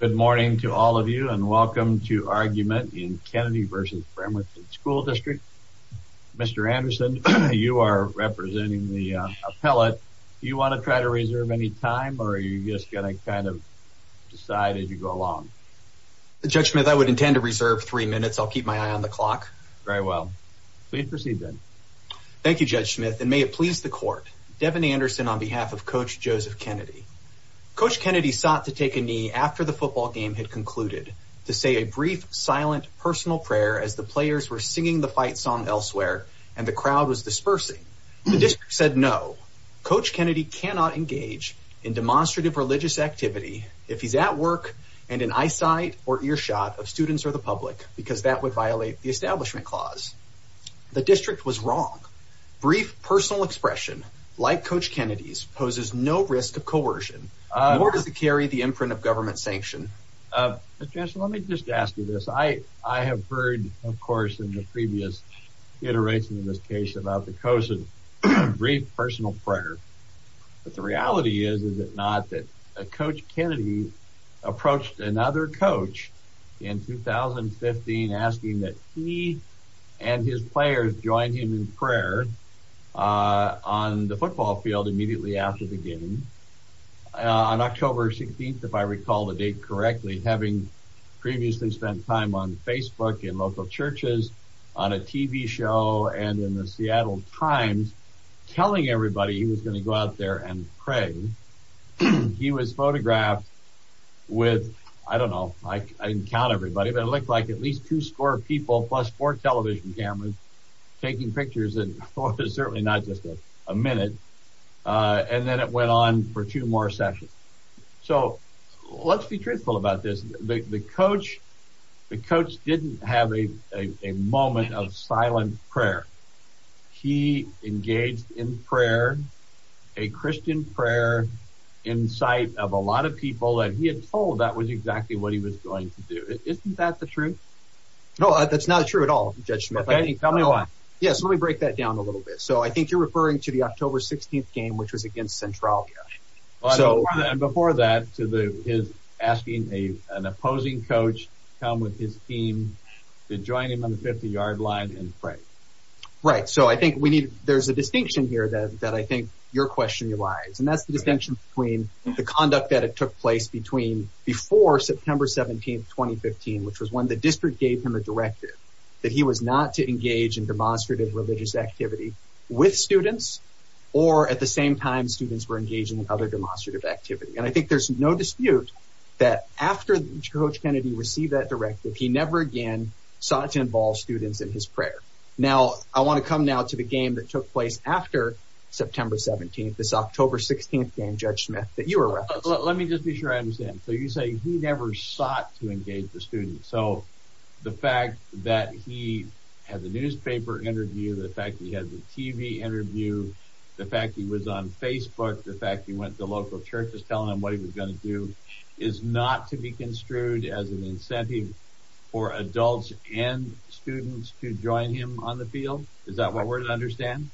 Good morning to all of you and welcome to Argument in Kennedy v. Bremerton School District. Mr. Anderson, you are representing the appellate. Do you want to try to reserve any time or are you just going to kind of decide as you go along? Judge Smith, I would intend to reserve three minutes. I'll keep my eye on the clock. Very well. Please proceed then. Thank you, Judge Smith, and may it please the court. Devin Anderson on behalf of Coach Joseph Kennedy. Coach Kennedy sought to take a knee after the football game had concluded to say a brief silent personal prayer as the players were singing the fight song elsewhere and the crowd was dispersing. The district said no. Coach Kennedy cannot engage in demonstrative religious activity if he's at work and in eyesight or earshot of students or the public because that would violate the establishment clause. The district was wrong. Brief personal expression like Coach Kennedy's to carry the imprint of government sanction. Mr. Anderson, let me just ask you this. I have heard, of course, in the previous iteration of this case about the coach's brief personal prayer, but the reality is, is it not, that Coach Kennedy approached another coach in 2015 asking that he and his players join him in prayer on the football field immediately after the game. On October 16th, if I recall the date correctly, having previously spent time on Facebook in local churches, on a TV show, and in the Seattle Times telling everybody he was going to go out there and pray, he was photographed with, I don't know, I didn't count everybody, but it looked like at least two score people plus four television cameras taking pictures and it was certainly not just a minute, and then it went on for two more sessions. So let's be truthful about this. The coach didn't have a moment of silent prayer. He engaged in prayer, a Christian prayer, in sight of a lot of people, and he had told that was exactly what he was going to do. Isn't that the truth? No, that's not true at all, Judge Smith. Okay, tell me why. Yes, let me break that down a little bit. So I think you're referring to the October 16th game, which was against Centralia. Before that, to his asking an opposing coach to come with his team to join him on the 50-yard line and pray. Right, so I think we need, there's a distinction here that I think your question relies, and that's the distinction between the conduct that it took place between before September 17th, 2015, which was when the district gave him a directive that he was not to engage in demonstrative religious activity with students, or at the same time students were engaging in other demonstrative activity. And I think there's no dispute that after Coach Kennedy received that directive, he never again sought to involve students in his prayer. Now, I want to come now to the game that took place after September 17th, this October 16th game, Judge Smith, that you were referencing. Let me just be sure I understand. So you say he never sought to engage the students. So the fact that he had the newspaper interview, the fact he had the TV interview, the fact he was on Facebook, the fact he went to local churches telling them what he was going to do, is not to be construed as an incentive for adults and students to join him on the field? Is that what we're to understand?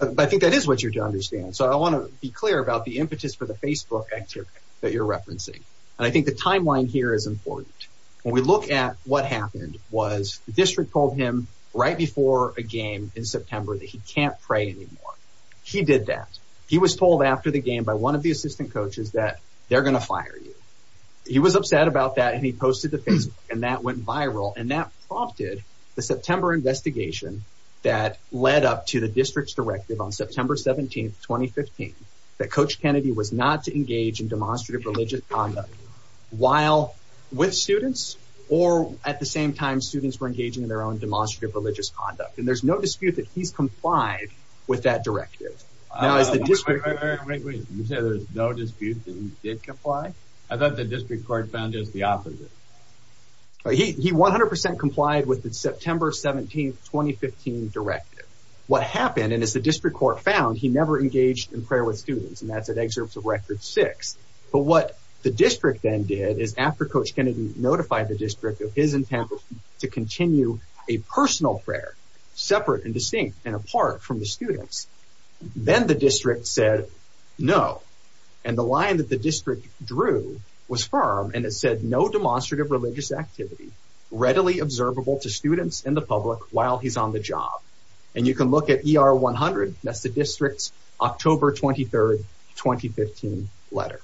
I think that is what you're to understand. So I want to be clear about the impetus for the Facebook activity that you're referencing. And I think the timeline here is important. When we look at what happened was the district told him right before a game in September that he can't pray anymore. He did that. He was told after the game by one of the assistant coaches that they're going to fire you. He was upset about that and he posted to Facebook and that went viral and that prompted the September investigation that led up to the district's directive on September 17, 2015, that Coach Kennedy was not to engage in demonstrative religious conduct while with students or at the same time students were engaging in their own demonstrative religious conduct. And there's no dispute that he's complied with that directive. Now is the district... Wait, wait, wait. You say there's no dispute that he did comply? I thought the district court found just the opposite. He 100 percent complied with the September 17, 2015, directive. What happened, and as the district court found, he never engaged in prayer with students. And that's at excerpts of record six. But what the district then did is after Coach Kennedy notified the district of his intent to continue a personal prayer, separate and distinct and apart from the students, then the district said no. And the line that the district drew was firm and it said no demonstrative religious activity readily observable to students and the public while he's on the job. And you can look at ER 100, that's the district's October 23, 2015, letter.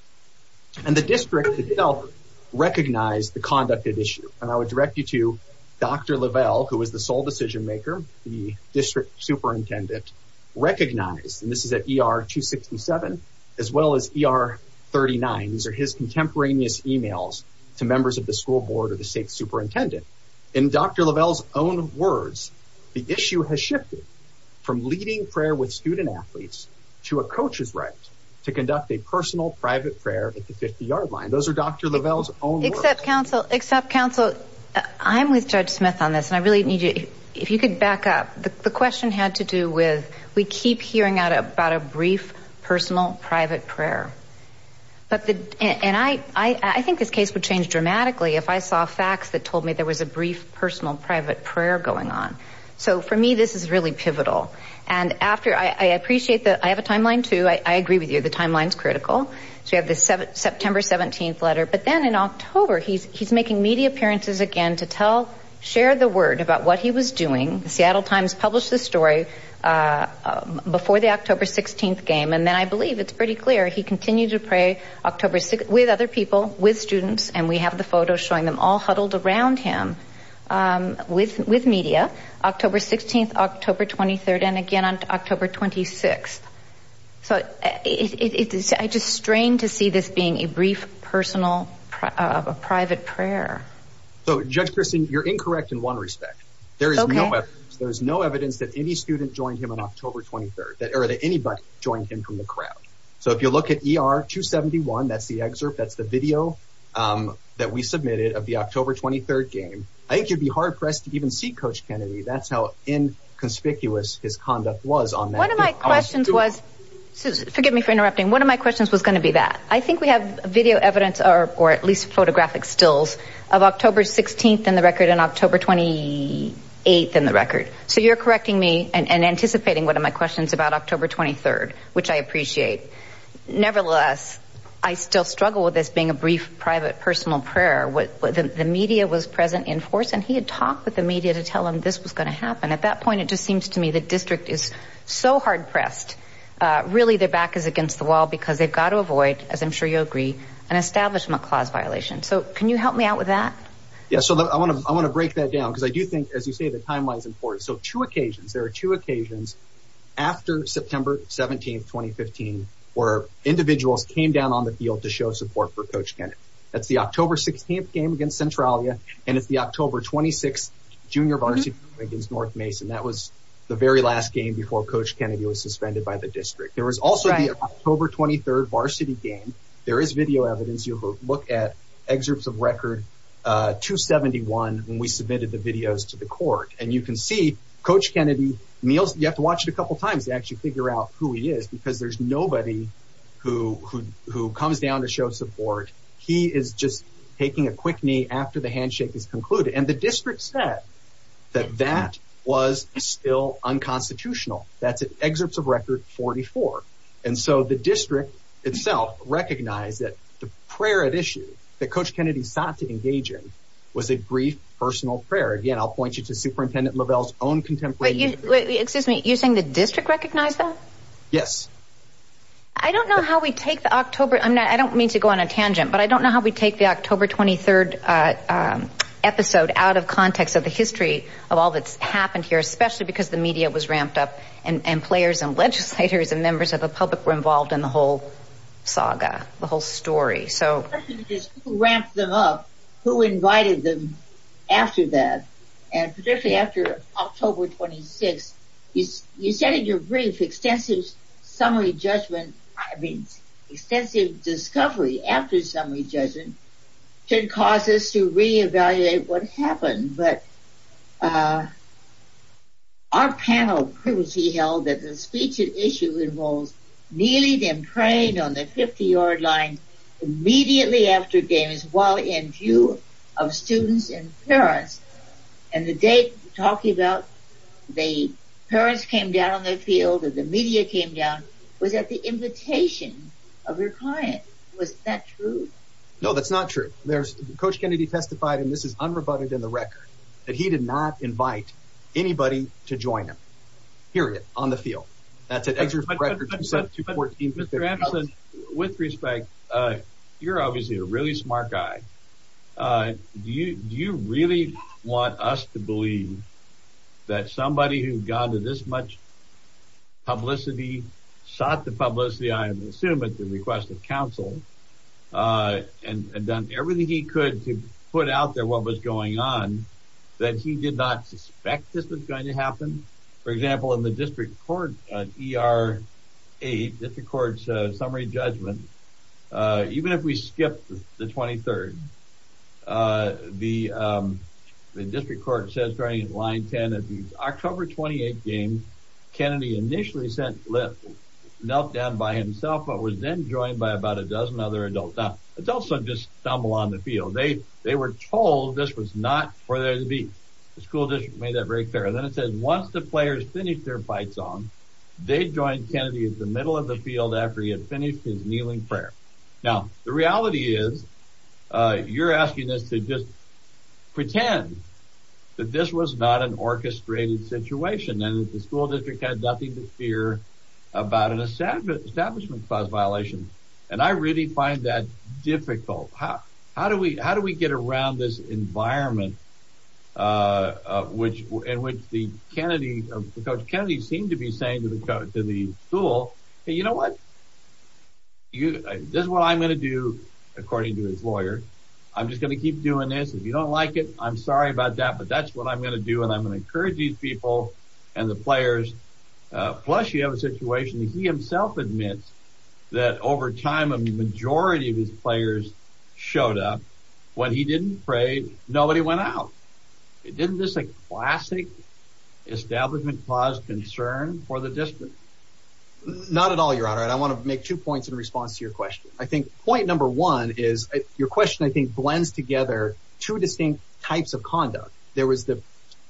And the district itself recognized the conduct at issue. And I would direct you to Dr. Lavelle, who is the sole decision maker, the district superintendent, recognized, and this is at ER 267, as well as ER 39. These are his contemporaneous emails to members of the school board or the state superintendent. In Dr. Lavelle's own words, the issue has shifted from leading prayer with student athletes to a coach's right to conduct a personal private prayer at the 50-yard line. Those are Dr. Lavelle's own words. Except counsel, except counsel, I'm with Judge Smith on this and I really need you, if you could back up. The question had to do with we keep hearing out about a brief personal private prayer. But the, and I think this case would change dramatically if I saw facts that told me there was a brief personal private prayer going on. So for me, this is really pivotal. And after, I appreciate that, I have a timeline too, I agree with you, the timeline's critical. So we have the September 17th letter. But then in October, he's making media appearances again to share the word about what he was doing. The Seattle Times published the story before the October 16th game. And then I believe it's pretty clear he continued to pray October 6th with other people, with students, and we have the photos showing them all huddled around him with media, October 16th, October 23rd, and again on October 26th. So I just strain to see this being a brief personal private prayer. So Judge Christen, you're incorrect in one respect. There is no evidence that any student joined him on October 23rd, or that anybody joined him from the crowd. So if you look at ER 271, that's the excerpt, that's the video that we submitted of the October 23rd game, I think you'd be hard pressed to even see Coach Kennedy. That's how inconspicuous his conduct was on that day. One of my questions was, forgive me for interrupting, one of my questions was going to be that. I think we have video evidence or at least photographic stills of October 16th in the record and October 28th in the record. So you're correcting me and anticipating one of my questions about October 23rd, which I appreciate. Nevertheless, I still struggle with this being a brief private personal prayer. The media was present in force and he had talked with the media to tell him this was going to happen. At that point, it just seems to me the district is so hard pressed. Really, their back is against the wall because they've got to avoid, as I'm sure you'll agree, an establishment clause violation. So can you help me out with that? Yeah, so I want to break that down because I do think, as you say, the timeline is important. So two occasions, there are two occasions after September 17th, 2015, where individuals came down on the field to show support for Coach Kennedy. That's the October 16th game and it's the October 26th junior varsity against North Mason. That was the very last game before Coach Kennedy was suspended by the district. There was also the October 23rd varsity game. There is video evidence. You look at excerpts of record 271 when we submitted the videos to the court and you can see Coach Kennedy kneels. You have to watch it a couple times to actually figure out who he is because there's nobody who comes down to show support. He is just taking a quick after the handshake is concluded. And the district said that that was still unconstitutional. That's an excerpt of record 44. And so the district itself recognized that the prayer at issue that Coach Kennedy sought to engage in was a brief personal prayer. Again, I'll point you to Superintendent Lovell's own contemporary. Excuse me. You're saying the district recognized that? Yes. I don't know how we take the October. I don't mean to go on a tangent, but I don't know how we take the October 23rd episode out of context of the history of all that's happened here, especially because the media was ramped up and players and legislators and members of the public were involved in the whole saga, the whole story. So who ramped them up? Who invited them after that? And particularly after October 26th, you said in your brief extensive summary should cause us to re-evaluate what happened. But our panel held that the speech at issue involves kneeling and praying on the 50 yard line immediately after games while in view of students and parents. And the date talking about the parents came down on the field and the media came down was at the invitation of your client. Was that true? No, that's not true. Coach Kennedy testified, and this is unrebutted in the record, that he did not invite anybody to join him, period, on the field. That's an excerpt from the record. With respect, you're obviously a really smart guy. Do you really want us to believe that somebody who's gone to this much publicity sought the publicity, I assume at the request of counsel, and done everything he could to put out there what was going on, that he did not suspect this was going to happen? For example, in the district court, ER 8, district court's summary judgment, even if we skip the 23rd, the district court says during line 10 that the October 28th other adult son just stumbled on the field. They were told this was not for there to be. The school district made that very clear. And then it says once the players finished their fights on, they joined Kennedy in the middle of the field after he had finished his kneeling prayer. Now, the reality is you're asking us to just pretend that this was not an orchestrated situation and that the school district had nothing to fear about an establishment clause violation. And I really find that difficult. How do we get around this environment in which Coach Kennedy seemed to be saying to the school, hey, you know what? This is what I'm going to do, according to his lawyer. I'm just going to keep doing this. If you don't like it, I'm sorry about that, but that's what I'm going to do, and I'm going to majority of his players showed up when he didn't pray. Nobody went out. It didn't just like classic establishment clause concern for the district. Not at all, your honor. I want to make two points in response to your question. I think point number one is your question, I think, blends together two distinct types of conduct. There was the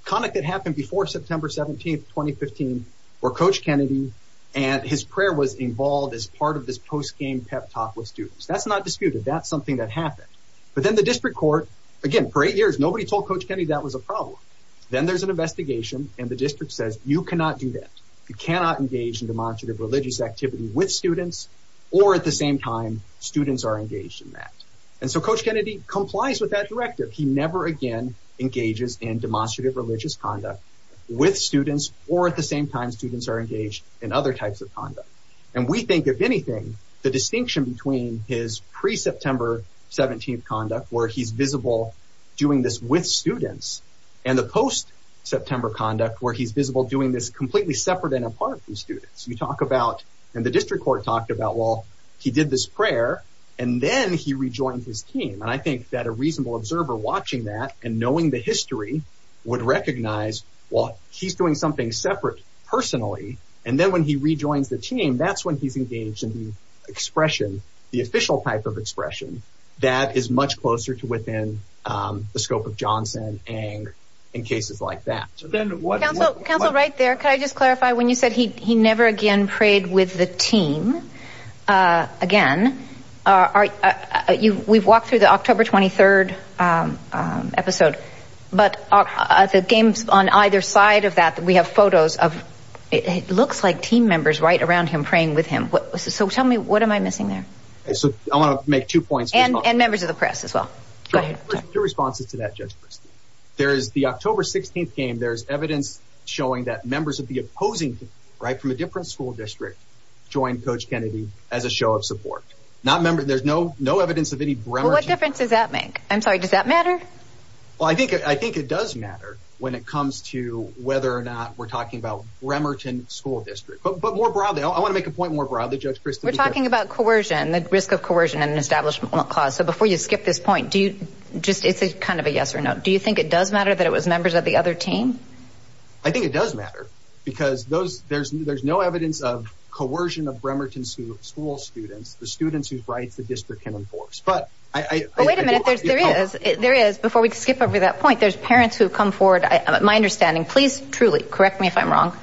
conduct that happened before September 17th, 2015, where Coach Kennedy and his prayer was involved as part of this post-game pep talk with students. That's not disputed. That's something that happened. But then the district court, again, for eight years, nobody told Coach Kennedy that was a problem. Then there's an investigation, and the district says, you cannot do that. You cannot engage in demonstrative religious activity with students, or at the same time, students are engaged in that. And so Coach Kennedy complies with that directive. He never again engages in demonstrative religious conduct with students, or at the same time, students are engaged in other types of conduct. And we think, if anything, the distinction between his pre-September 17th conduct, where he's visible doing this with students, and the post-September conduct, where he's visible doing this completely separate and apart from students. You talk about, and the district court talked about, well, he did this prayer, and then he rejoined his team. And I think that a reasonable observer watching that and knowing the history would recognize, well, he's doing something separate personally, and then when he rejoins the team, that's when he's engaged in the expression, the official type of expression that is much closer to within the scope of Johnson and in cases like that. Counsel, right there, can I just clarify, when you said he never again prayed with the team again, we've walked through the October 23rd episode, but the games on either side of that, we have photos of, it looks like team members right around him praying with him. So tell me, what am I missing there? So I want to make two points. And members of the press as well. Two responses to that, Judge Christine. There's the October 16th game, there's evidence showing that members of the opposing team, right, from a different school district, joined Coach Kennedy as a show of support. There's no evidence of any Bremerton. Well, what difference does that make? I'm sorry, does that matter? Well, I think it does matter when it comes to whether or not we're talking about Bremerton school district. But more broadly, I want to make a point more broadly, Judge Christine. We're talking about coercion, the risk of coercion in an establishment clause. So before you skip this point, it's kind of a yes or no. Do you think it does matter that it was members of the other team? I think it does matter. Because there's no evidence of coercion of Bremerton school students, the students whose rights the district can enforce. But wait a minute, there is, before we skip over that point, there's parents who have come forward, my understanding, please truly correct me if I'm wrong.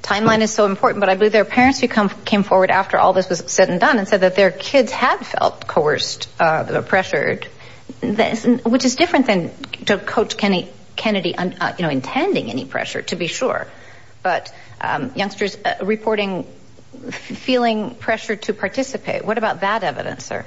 Timeline is so important, but I believe there are parents who came forward after all this was said and done and said that their kids have felt coerced, pressured, which is different than Coach Kennedy intending any pressure, to be sure. But youngsters reporting feeling pressured to participate. What about that evidence, sir?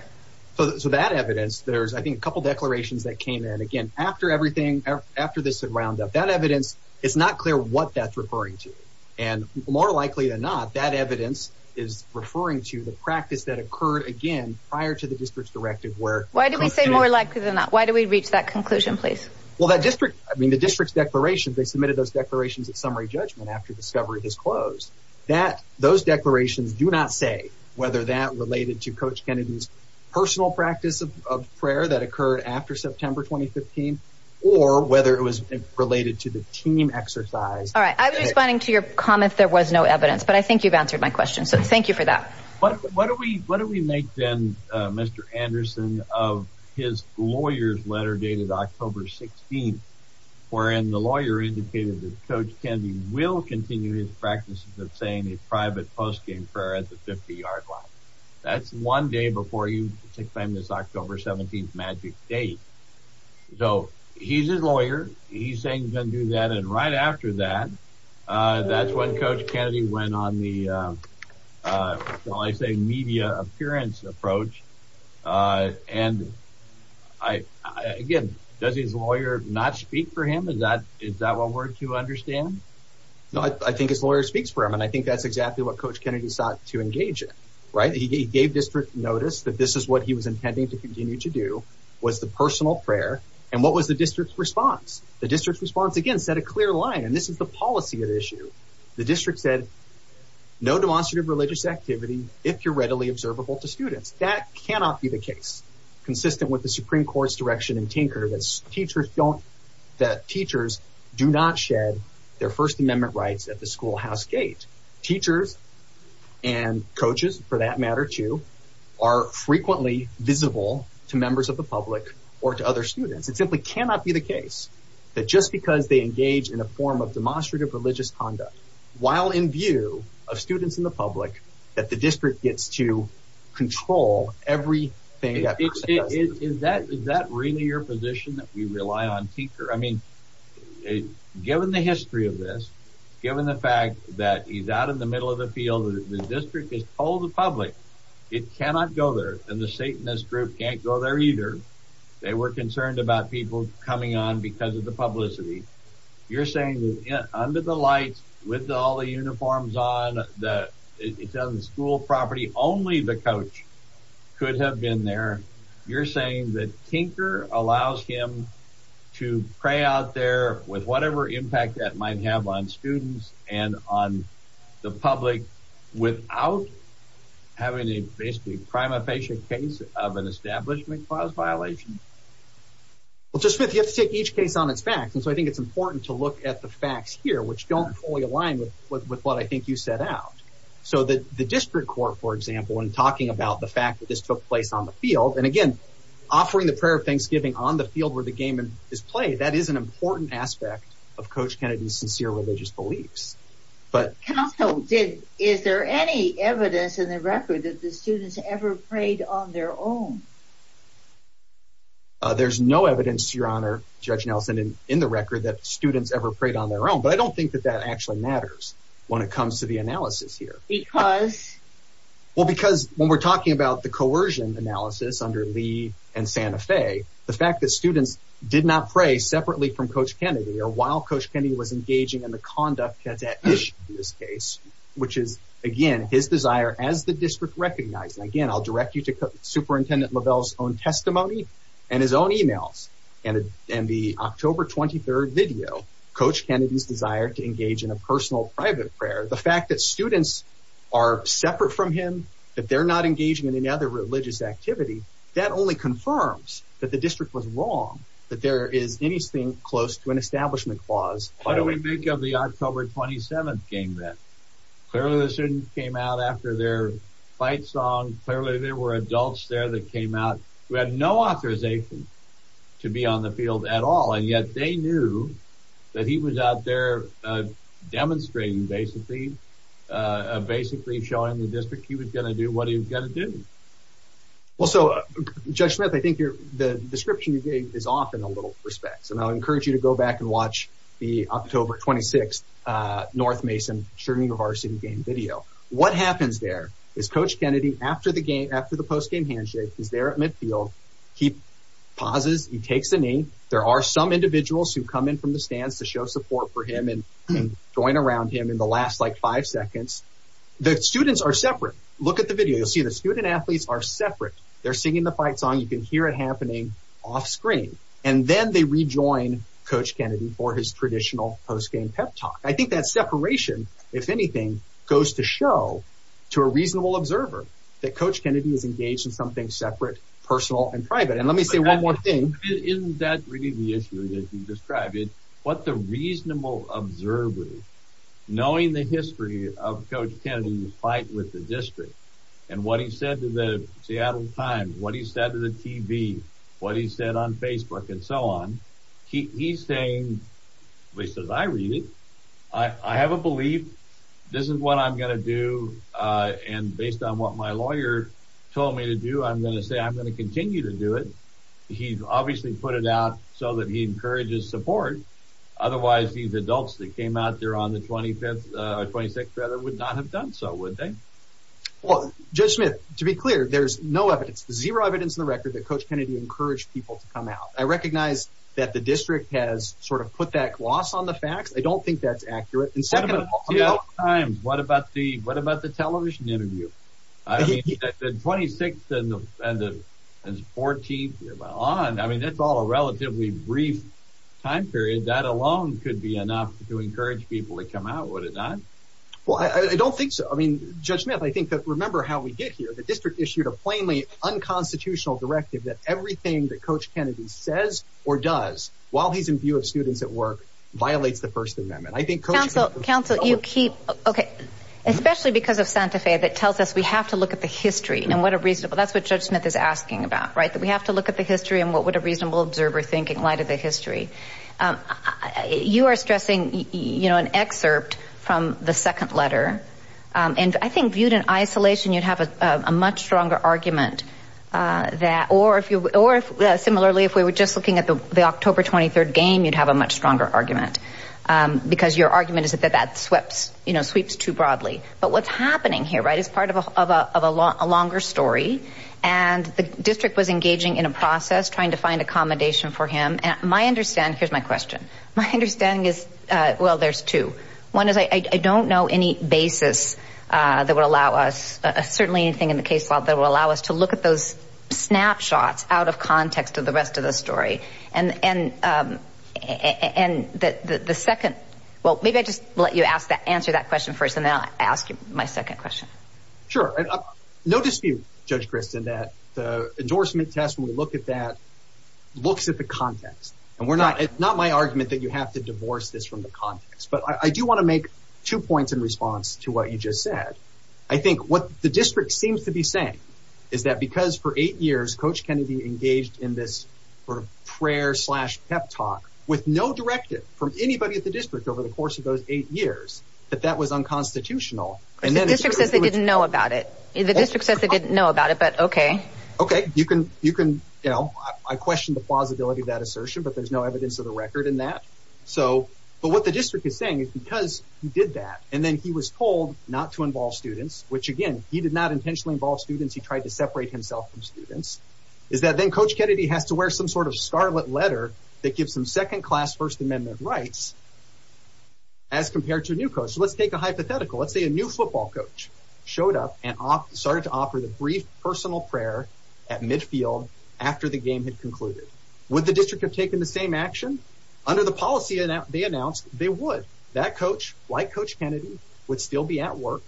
So that evidence, there's, I think, a couple declarations that came in again after everything, after this roundup. That evidence, it's not clear what that's referring to. And more likely than not, that evidence is referring to the practice that occurred again prior to the district's directive. Why do we say more likely than not? Why do we reach that conclusion, please? Well, that district, I mean, the district's declarations, they submitted those declarations at summary judgment after discovery was closed. Those declarations do not say whether that related to Coach Kennedy's personal practice of prayer that occurred after September 2015, or whether it was related to the team exercise. All right. I was responding to your comment, there was no evidence, but I think you've answered my question. So thank you for that. But what do we, what do we make then, Mr. Anderson, of his lawyer's letter dated October 16th, wherein the lawyer indicated that Coach Kennedy will continue his practices of saying a private post-game prayer at the 50-yard line. That's one day before you take time this October 17th magic date. So he's his lawyer, he's saying he's going to do that, and right after that, that's when Coach Kennedy went on the, well, I say media appearance approach. And I, again, does his lawyer not speak for him? Is that, is that what we're to understand? No, I think his lawyer speaks for him, and I think that's exactly what Coach Kennedy sought to engage in, right? He gave district notice that this is what he was intending to continue to do, was the personal prayer. And what was the district's response? The district's response, again, set a clear line, and this is the policy of the issue. The district said, no demonstrative religious activity if you're readily observable to students. That cannot be the case, consistent with the Supreme Court's direction in Tinker, that teachers don't, that teachers do not shed their First Amendment rights at the schoolhouse gate. Teachers and or to other students. It simply cannot be the case that just because they engage in a form of demonstrative religious conduct, while in view of students in the public, that the district gets to control everything. Is that really your position that we rely on Tinker? I mean, given the history of this, given the fact that he's out in the middle of the field, the district has told the public it cannot go there, and the Satanist group can't go there either. They were concerned about people coming on because of the publicity. You're saying that under the lights, with all the uniforms on, that it's on the school property, only the coach could have been there. You're saying that Tinker allows him to pray out there with whatever impact that might have on students and on the public without having a basically prima facie case of an establishment clause violation? Well, Joseph Smith, you have to take each case on its facts. And so I think it's important to look at the facts here, which don't fully align with what I think you set out. So the district court, for example, when talking about the fact that this took place on the field, and again, offering the prayer of Thanksgiving on the field where the game is played, that is an important aspect of Coach Kennedy's sincere religious beliefs. But is there any evidence in the record that the students ever prayed on their own? There's no evidence, Your Honor, Judge Nelson, in the record that students ever prayed on their own. But I don't think that that actually matters when it comes to the analysis here. Because? Well, because when we're talking about the coercion analysis under Lee and Santa Fe, the fact that students did not pray separately from Coach Kennedy or while Coach Kennedy was engaging in the conduct that's at issue in this case, which is, again, his desire as the district recognized. And again, I'll direct you to Superintendent Lovell's own testimony and his own emails and the October 23rd video, Coach Kennedy's desire to engage in a personal private prayer. The fact that students are separate from him, that they're not engaging in any other religious activity, that only confirms that the district was wrong, that there is anything close to an establishment clause. What do we make of the October 27th game then? Clearly, the students came out after their fight song. Clearly, there were adults there that came out who had no authorization to be on the field at all. And yet they knew that he was out there demonstrating, basically, basically showing the district he was going to do what he was going to do. Well, so, Judge Smith, I think the description you gave is often a little disrespectful. And I'll encourage you to go back and watch the October 26th North Mason Chernigovar City game video. What happens there is Coach Kennedy, after the post-game handshake, he's there at midfield. He pauses. He takes a knee. There are some individuals who come in from the stands to show support for him and join around him in the last, like, five seconds. The students are separate. Look at the video. You'll see the student-athletes are separate. They're singing the fight song. You can hear it happening off-screen. And then they rejoin Coach Kennedy for his traditional post-game pep talk. I think that separation, if anything, goes to show to a reasonable observer that Coach Kennedy is engaged in something separate, personal, and private. And let me say one more thing. Isn't that really the issue that you described? What the reasonable observer, knowing the history of Coach Kennedy's fight with the district, and what he said to the Times, what he said to the TV, what he said on Facebook, and so on, he's saying, at least as I read it, I have a belief this is what I'm going to do. And based on what my lawyer told me to do, I'm going to say I'm going to continue to do it. He's obviously put it out so that he encourages support. Otherwise, these adults that came out there on the 25th, or 26th, rather, would not have done so, would they? Well, Judge Smith, to be clear, there's no evidence, zero evidence on the record that Coach Kennedy encouraged people to come out. I recognize that the district has sort of put that gloss on the facts. I don't think that's accurate. And second of all, the Times, what about the television interview? I mean, the 26th and the 14th, and on, I mean, that's all a relatively brief time period. That alone could be enough to encourage people to come out, would it not? Well, I don't think so. I mean, Judge Smith, I think that, remember how we get here, the district issued a plainly unconstitutional directive that everything that Coach Kennedy says or does, while he's in view of students at work, violates the First Amendment. I think Coach Kennedy... Counsel, you keep... Okay. Especially because of Santa Fe, that tells us we have to look at the history, and what a reasonable... That's what Judge Smith is asking about, right? That we have to look at the history, and what would a reasonable observer think in light of the history? You are from the second letter, and I think viewed in isolation, you'd have a much stronger argument that... Or similarly, if we were just looking at the October 23rd game, you'd have a much stronger argument, because your argument is that that sweeps too broadly. But what's happening here, right, is part of a longer story, and the district was engaging in a process, trying to find accommodation for him. My understanding... Here's my question. My understanding is... Well, there's two. One is I don't know any basis that would allow us, certainly anything in the case law, that will allow us to look at those snapshots out of context of the rest of the story. And the second... Well, maybe I'll just let you answer that question first, and then I'll ask you my second question. Sure. No dispute, Judge Kristen, that the you have to divorce this from the context. But I do want to make two points in response to what you just said. I think what the district seems to be saying is that because for eight years, Coach Kennedy engaged in this sort of prayer slash pep talk with no directive from anybody at the district over the course of those eight years, that that was unconstitutional. And then the district says they didn't know about it. The district says they didn't know about it, but okay. Okay. You can... I question the plausibility of that assertion, but there's no evidence of the record in that. So... But what the district is saying is because he did that, and then he was told not to involve students, which again, he did not intentionally involve students. He tried to separate himself from students. Is that then Coach Kennedy has to wear some sort of scarlet letter that gives him second class First Amendment rights as compared to a new coach. So let's take a hypothetical. Let's say a new football coach showed up and started to offer the brief personal prayer at midfield after the game had concluded. Would the district have taken the same action? Under the policy they announced, they would. That coach, like Coach Kennedy, would still be at work.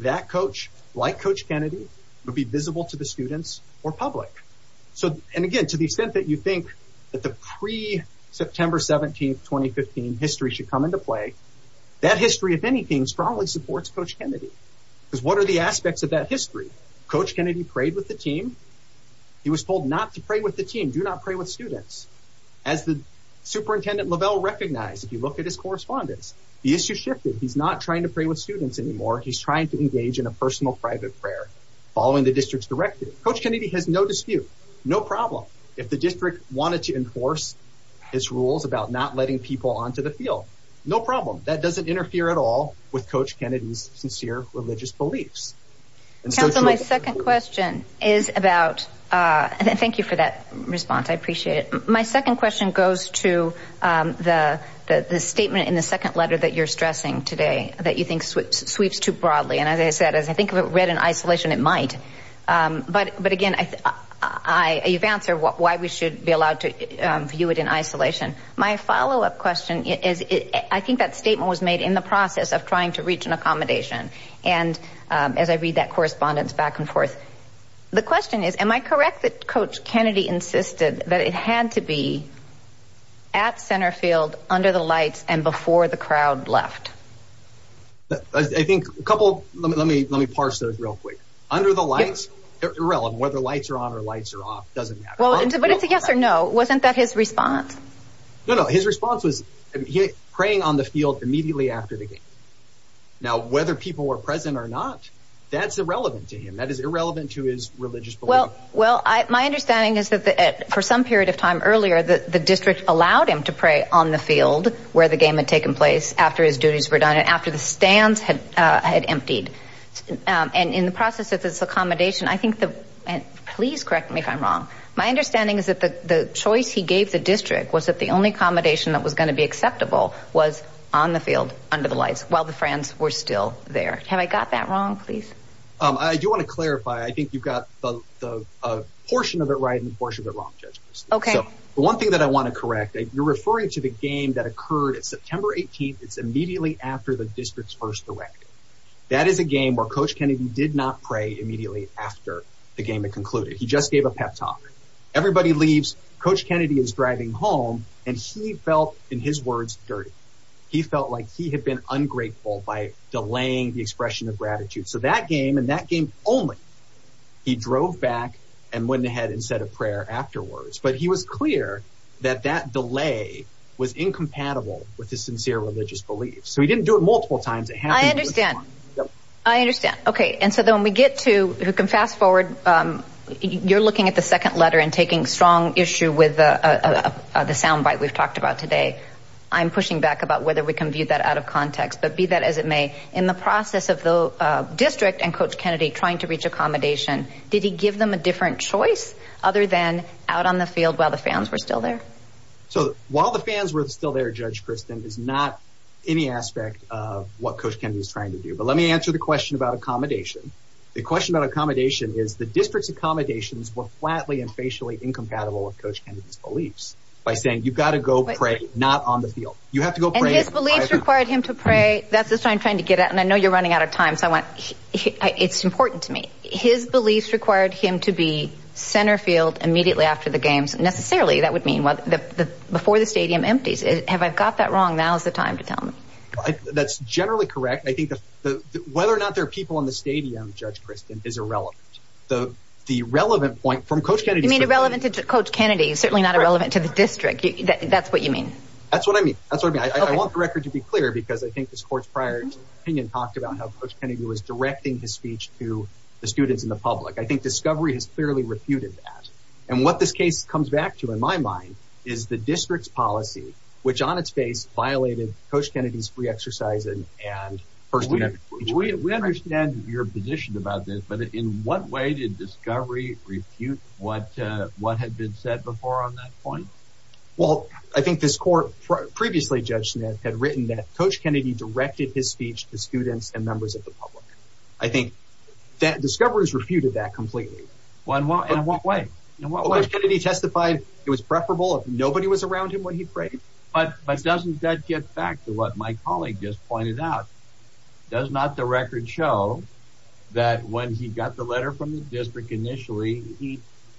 That coach, like Coach Kennedy, would be visible to the students or public. So... And again, to the extent that you think that the pre-September 17th, 2015 history should come into play, that history, if anything, strongly supports Coach Kennedy. Because what are the aspects of that history? Coach Kennedy prayed with the team. He was told not to pray with the team. Do not pray with students. As the Superintendent Lovell recognized, if you look at his correspondence, the issue shifted. He's not trying to pray with students anymore. He's trying to engage in a personal private prayer following the district's directive. Coach Kennedy has no dispute. No problem. If the district wanted to enforce his rules about not letting people onto the field, no problem. That doesn't interfere at all with Coach Kennedy's sincere religious beliefs. Council, my second question is about... Thank you for that response. I appreciate it. My second question goes to the statement in the second letter that you're stressing today that you think sweeps too broadly. And as I said, as I think of it read in isolation, it might. But again, you've answered why we should be allowed to try to reach an accommodation. And as I read that correspondence back and forth, the question is, am I correct that Coach Kennedy insisted that it had to be at center field, under the lights, and before the crowd left? I think a couple... Let me parse those real quick. Under the lights, irrelevant whether lights are on or lights are off. Doesn't matter. But it's a yes or no. Wasn't that his response? No, no. His response was praying on the field immediately after the game. Now, whether people were present or not, that's irrelevant to him. That is irrelevant to his religious belief. Well, my understanding is that for some period of time earlier, the district allowed him to pray on the field where the game had taken place after his duties were done and after the stands had emptied. And in the process of this accommodation, I think... Please correct me if I'm wrong. My understanding is that the choice he gave the district was that the only accommodation that was going to be acceptable was on the field, under the lights, while the fans were still there. Have I got that wrong, please? I do want to clarify. I think you've got a portion of it right and a portion of it wrong, Judge Christy. So the one thing that I want to correct, you're referring to the game that occurred at September 18th. It's immediately after the district's first directive. That is the game where Coach Kennedy did not pray immediately after the game had concluded. He just gave a pep talk. Everybody leaves, Coach Kennedy is driving home, and he felt, in his words, dirty. He felt like he had been ungrateful by delaying the expression of gratitude. So that game and that game only, he drove back and went ahead and said a prayer afterwards. But he was clear that that delay was incompatible with his sincere religious beliefs. So he didn't do it I understand. Okay. And so then when we get to, we can fast forward, you're looking at the second letter and taking strong issue with the soundbite we've talked about today. I'm pushing back about whether we can view that out of context, but be that as it may, in the process of the district and Coach Kennedy trying to reach accommodation, did he give them a different choice other than out on the field while the fans were still there? So while the fans were still there, Judge Kristen, is not any aspect of what Coach Kennedy was trying to do. But let me answer the question about accommodation. The question about accommodation is the district's accommodations were flatly and facially incompatible with Coach Kennedy's beliefs by saying, you've got to go pray, not on the field. You have to go pray. And his beliefs required him to pray. That's the sign trying to get at. And I know you're running out of time. So I want, it's important to me. His beliefs required him to be center field immediately after the games. Necessarily, that would mean before the stadium empties. Have I got that wrong? Now's the time to tell me. That's generally correct. I think that whether or not there are people in the stadium, Judge Kristen, is irrelevant. The relevant point from Coach Kennedy... You mean irrelevant to Coach Kennedy, certainly not irrelevant to the district. That's what you mean. That's what I mean. That's what I mean. I want the record to be clear because I think this court's prior opinion talked about how Coach Kennedy was directing his speech to the students and the public. I think Discovery has clearly refuted that. And what this case comes back to, in my mind, is the district's policy, which on its face violated Coach Kennedy's free exercising. We understand your position about this, but in what way did Discovery refute what had been said before on that point? Well, I think this court previously, Judge Smith, had written that Coach Kennedy directed his speech to students and members of the public. I think that Discovery has refuted that completely. In what way? Coach Kennedy testified it was preferable if nobody was around him when he prayed. But doesn't that get back to what my colleague just pointed out? Does not the record show that when he got the letter from the district initially,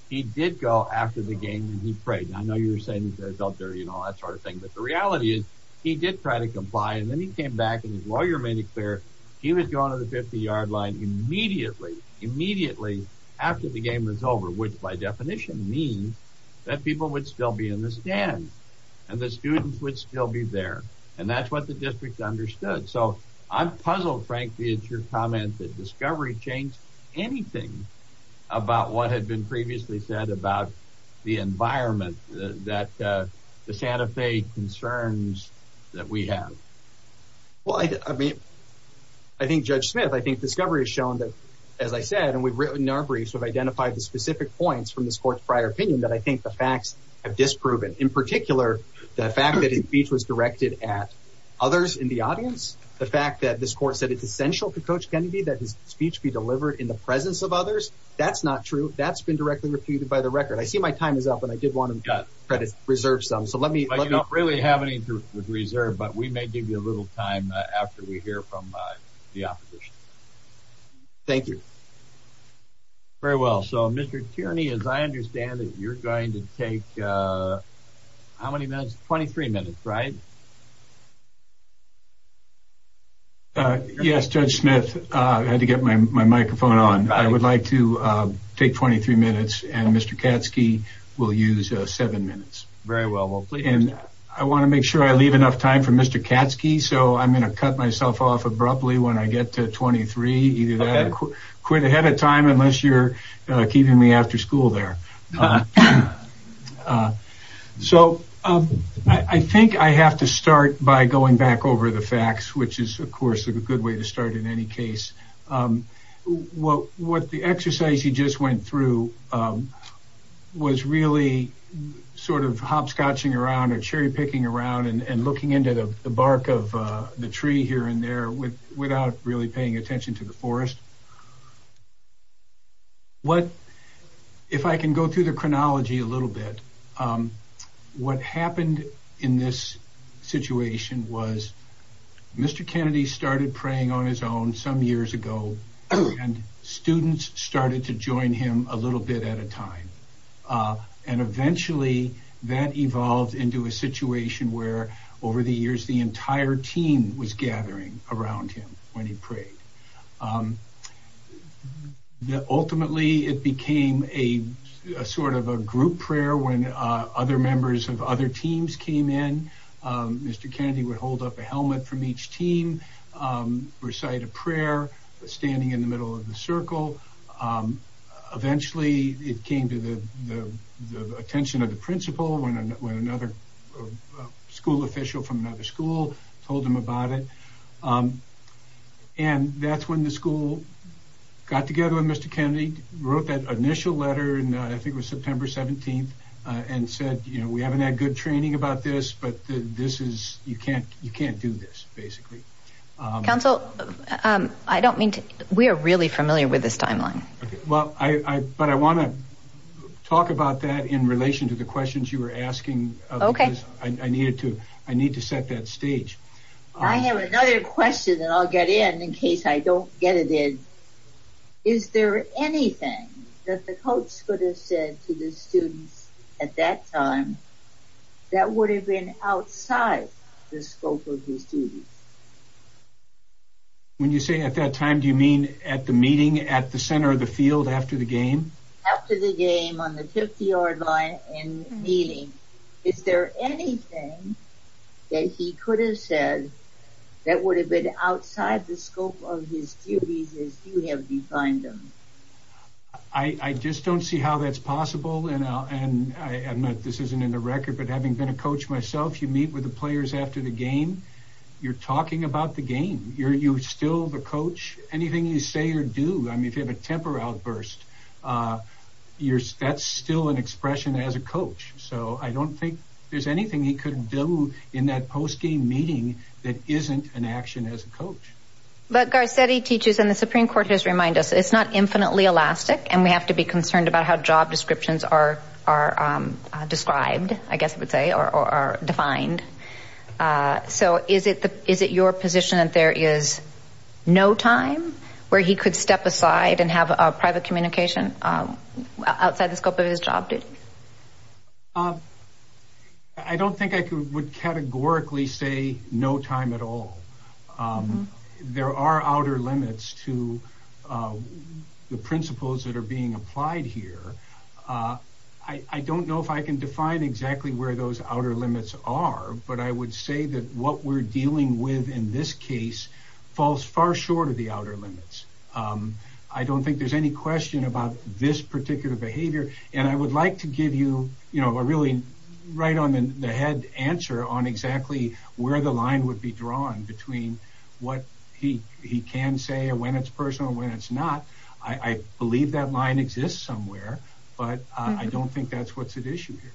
he did go after the game and he prayed? I know you were saying he felt dirty and all that sort of thing, but the reality is he did try to comply and then he came back and his lawyer made it clear he was going to the yard line immediately, immediately after the game was over, which by definition means that people would still be in the stand and the students would still be there. And that's what the district understood. So I'm puzzled, frankly, it's your comment that Discovery changed anything about what had been previously said about the environment that the Santa Fe concerns that we have. Well, I mean, I think Judge Smith, I think Discovery has shown that, as I said, and we've written our briefs, we've identified the specific points from this court's prior opinion that I think the facts have disproven. In particular, the fact that his speech was directed at others in the audience, the fact that this court said it's essential to Coach Kennedy that his speech be delivered in the presence of others. That's not true. That's been directly refuted by the record. I see my time is up and I did want to reserve some, so let me. You don't really have to reserve, but we may give you a little time after we hear from the opposition. Thank you. Very well. So, Mr. Tierney, as I understand it, you're going to take how many minutes, 23 minutes, right? Yes, Judge Smith, I had to get my microphone on. I would like to take 23 minutes and Mr. Katsky will use seven minutes. Very well. And I want to make sure I leave enough time for Mr. Katsky, so I'm going to cut myself off abruptly when I get to 23. Either that or quit ahead of time unless you're keeping me after school there. So, I think I have to start by going back over the facts, which is, of course, a good way to start in any case. What the exercise you just went through was really sort of hopscotching around or cherry picking around and looking into the bark of the tree here and there without really paying attention to the forest. What, if I can go through the chronology a little bit, what happened in this situation was Mr. Kennedy started praying on his own some years ago and students started to join him a little bit at a time. And eventually that evolved into a situation where over the years the entire team was gathering around him when he prayed. Ultimately, it became a sort of a group prayer when other members of other teams came in. Mr. Kennedy would hold up a helmet from each team, recite a prayer, standing in the middle of the circle. Eventually, it came to the attention of the principal when another school official from another school told him about it. And that's when the school got together with Mr. Kennedy, wrote that initial letter, and I think it was September 17th, and said, you know, we haven't had good training about this, but you can't do this, basically. Counsel, I don't mean to, we are really familiar with this timeline. Well, I, but I want to talk about that in relation to the questions you were asking. Okay. I needed to, I need to set that stage. I have another question and I'll get in in case I don't get it in. Is there anything that the coach could have said to the students at that time that would have been outside the scope of his duties? When you say at that time, do you mean at the meeting, at the center of the field, after the game? After the game, on the 50-yard line and meeting. Is there anything that he could have said that would have been outside the scope of his duties as you have defined them? I, I just don't see how that's possible. And I'll, and I, I'm not, this isn't in the record, but having been a coach myself, you meet with the players after the game, you're talking about the game. You're, you're still the coach. Anything you say or do, I mean, if you have a temper outburst, you're, that's still an expression as a coach. So I don't think there's anything he could do in that post-game meeting that isn't an action as a coach. But Garcetti teaches, and the Supreme Court has reminded us, it's not infinitely elastic, and we have to be concerned about how job descriptions are, are described, I guess I would say, or defined. So is it, is it your position that there is no time where he could step aside and have a private communication outside the scope of his job duty? I don't think I would categorically say no time at all. There are outer limits to the principles that are being applied here. I don't know if I can define exactly where those outer limits are, but I would say that what we're dealing with in this case falls far short of the outer limits. I don't think there's any question about this particular behavior. And I would like to give you, you know, a really right on the head answer on exactly where the line would be drawn between what he can say and when it's personal and when it's not. I believe that line exists somewhere, but I don't think that's what's at issue here.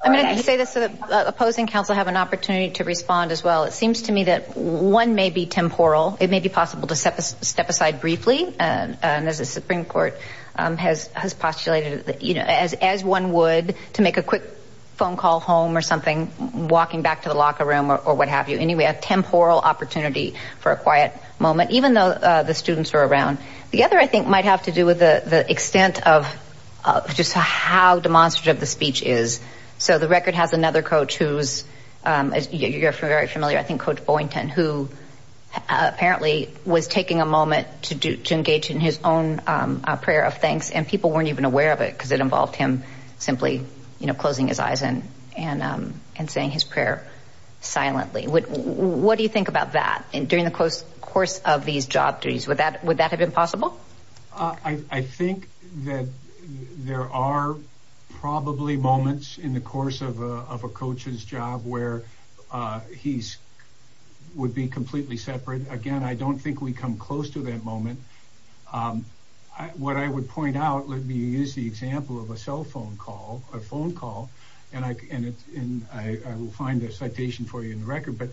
I'm going to say this so the opposing counsel have an opportunity to respond as well. It seems to me that one may be temporal. It may be possible to step aside briefly, and as the Supreme Court has postulated, you know, as one would to make a quick phone call home or something, walking back to the locker room or what opportunity for a quiet moment, even though the students are around. The other, I think, might have to do with the extent of just how demonstrative the speech is. So the record has another coach who's, as you're very familiar, I think Coach Boynton, who apparently was taking a moment to engage in his own prayer of thanks, and people weren't even aware of it because it involved him simply closing his eyes and saying his prayer silently. What do you think about that during the course of these job duties? Would that have been possible? I think that there are probably moments in the course of a coach's job where he would be completely separate. Again, I don't think we come close to that moment. What I would point out, let me use the example of a cell phone call, a phone call, and I will find a citation for you in the record, but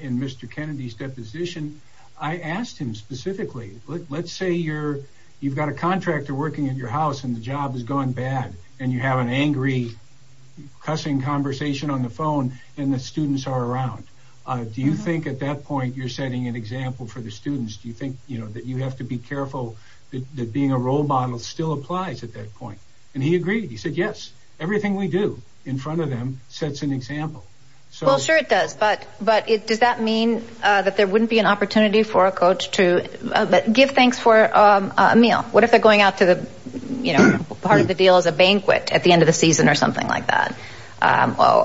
in Mr. Kennedy's deposition, I asked him specifically, let's say you've got a contractor working at your house and the job has gone bad and you have an angry, cussing conversation on the phone and the students are around. Do you think at that point you're setting an example for the students? Do you think that you have to be careful that being a role model still applies at that point? And he agreed. He said, yes, everything we do in front of them sets an example. Well, sure it does, but does that mean that there wouldn't be an opportunity for a coach to give thanks for a meal? What if they're going out to the part of the deal as a banquet at the end of the season or something like that,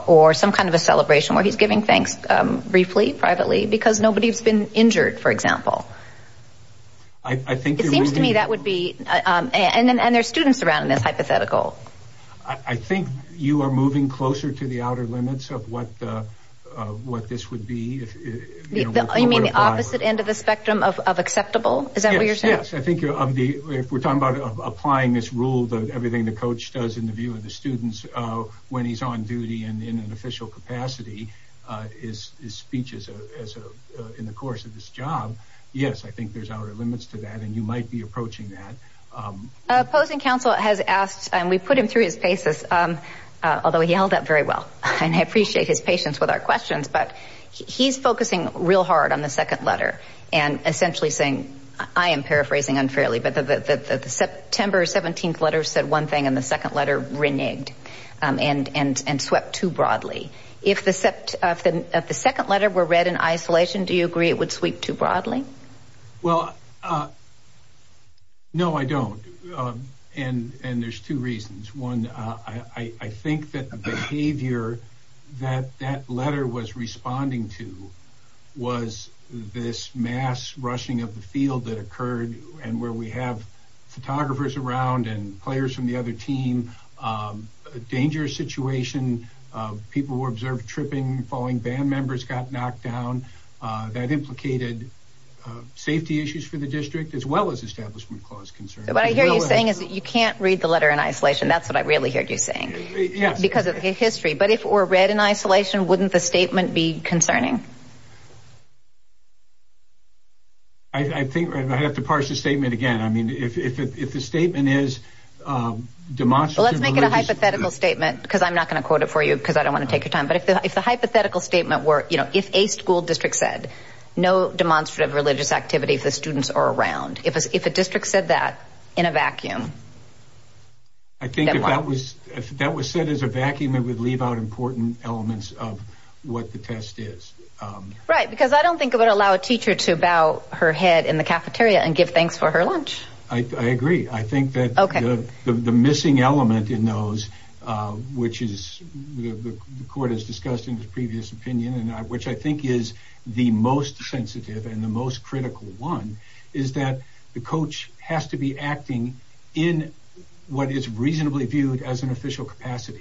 or some kind of a celebration where he's giving thanks briefly, privately, because nobody's been injured, for example? I think it seems to me that would be, and there's students around in this hypothetical. I think you are moving closer to the outer limits of what this would be. You mean the opposite end of the spectrum of acceptable? Is that what you're saying? Yes, I think if we're talking about applying this rule, everything the coach does in the view of the students when he's on duty and in an official capacity is speeches in the course of this job. Yes, I think there's outer limits to that, and you might be approaching that. Opposing counsel has asked, and we put him through his paces, although he held up very well, and I appreciate his patience with our questions, but he's focusing real hard on the second letter and essentially saying, I am paraphrasing unfairly, but the September 17th letter said one and the second letter reneged and swept too broadly. If the second letter were read in isolation, do you agree it would sweep too broadly? Well, no, I don't, and there's two reasons. One, I think that the behavior that that letter was responding to was this mass rushing of a dangerous situation. People were observed tripping, falling, band members got knocked down. That implicated safety issues for the district as well as establishment clause concerns. What I hear you saying is that you can't read the letter in isolation. That's what I really heard you saying because of the history, but if it were read in isolation, wouldn't the statement be concerning? I think I'd have to parse the statement again. I mean, if the statement is demonstrably... Let's make it a hypothetical statement because I'm not going to quote it for you because I don't want to take your time, but if the hypothetical statement were, you know, if a school district said no demonstrative religious activity, if the students are around, if a district said that in a vacuum... I think if that was said as a vacuum, it would leave out important elements of what the test is. Right, because I don't think it would allow a teacher to bow her head in the cafeteria and give thanks for her lunch. I agree. I think that the missing element in those, which the court has discussed in the previous opinion and which I think is the most sensitive and the most critical one, is that the coach has to be acting in what is reasonably viewed as an cafeteria.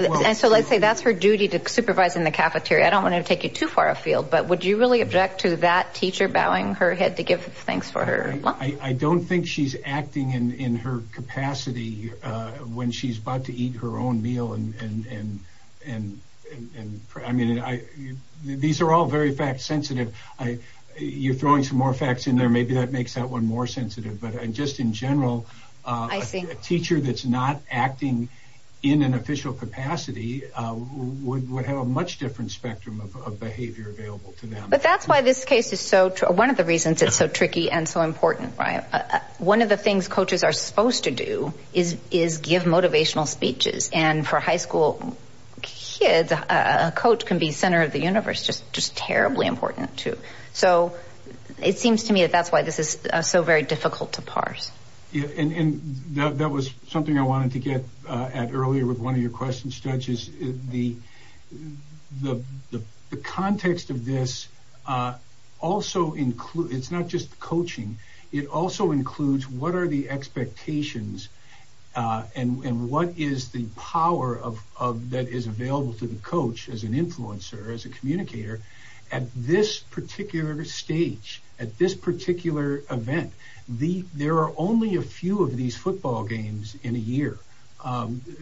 So let's say that's her duty to supervise in the cafeteria. I don't want to take you too far afield, but would you really object to that teacher bowing her head to give thanks for her lunch? I don't think she's acting in her capacity when she's about to eat her own meal. These are all very fact sensitive. You're throwing some more facts in there. Maybe that not acting in an official capacity would have a much different spectrum of behavior available to them. But that's why this case is so true. One of the reasons it's so tricky and so important, right? One of the things coaches are supposed to do is give motivational speeches. And for high school kids, a coach can be center of the universe, just terribly important too. So it seems that's why this is so very difficult to parse. That was something I wanted to get at earlier with one of your questions, Judge. The context of this also includes, it's not just coaching, it also includes what are the expectations and what is the power that is available to the coach as an influencer, as a communicator at this particular stage, at this particular event. There are only a few of these football games in a year.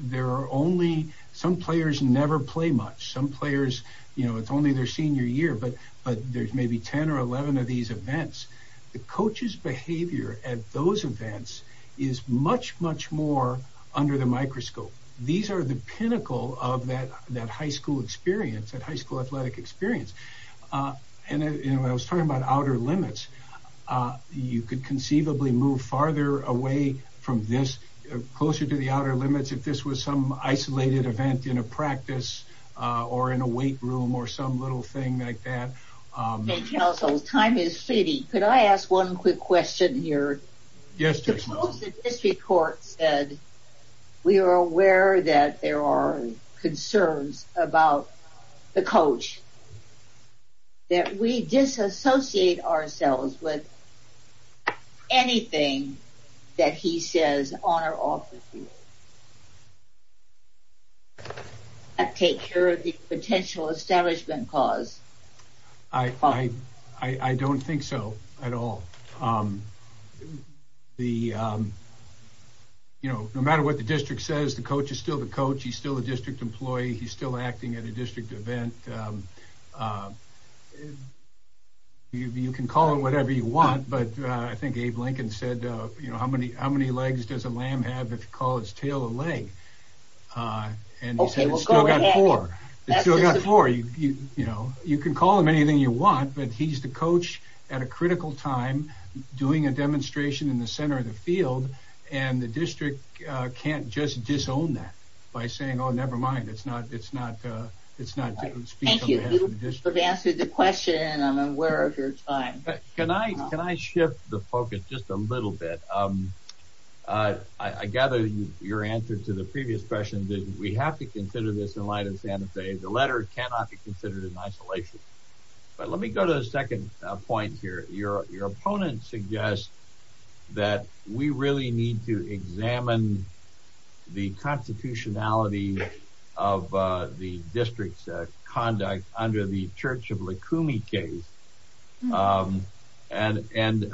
There are only, some players never play much. Some players, you know, it's only their senior year, but there's maybe 10 or 11 of these events. The coach's behavior at those events is much, much more under the microscope. These are the pinnacle of that high school experience, that high school athletic experience. And I was talking about outer limits. You could conceivably move farther away from this, closer to the outer limits, if this was some isolated event in a practice, or in a weight room, or some little thing like that. Counsel, time is fleeting. Could I ask one quick question here? Yes, Judge. The District Court said we are aware that there are concerns about the coach, that we disassociate ourselves with anything that he says on or off the field, and take care of the potential establishment cause. I don't think so at all. The, you know, no matter what the district says, the coach is still the coach. He's still a district employee. He's still acting at a district event. You can call it whatever you want, but I think Abe Lincoln said, you know, how many legs does a lamb have if you call his tail a leg? And he said it's still got four. It's still got four. You know, you can call him anything you want, but he's the coach at a critical time, doing a demonstration in the center of the field, and the district can't just disown that by saying, oh, never mind. It's not, it's not, it's not to speak on behalf of the district. Thank you. You have answered the question, and I'm aware of your time. Can I, can I shift the focus just a little bit? I gather your answer to the previous question that we have to consider this in light of Santa Fe. The letter cannot be second point here. Your, your opponent suggests that we really need to examine the constitutionality of the district's conduct under the Church of Lacumi case. And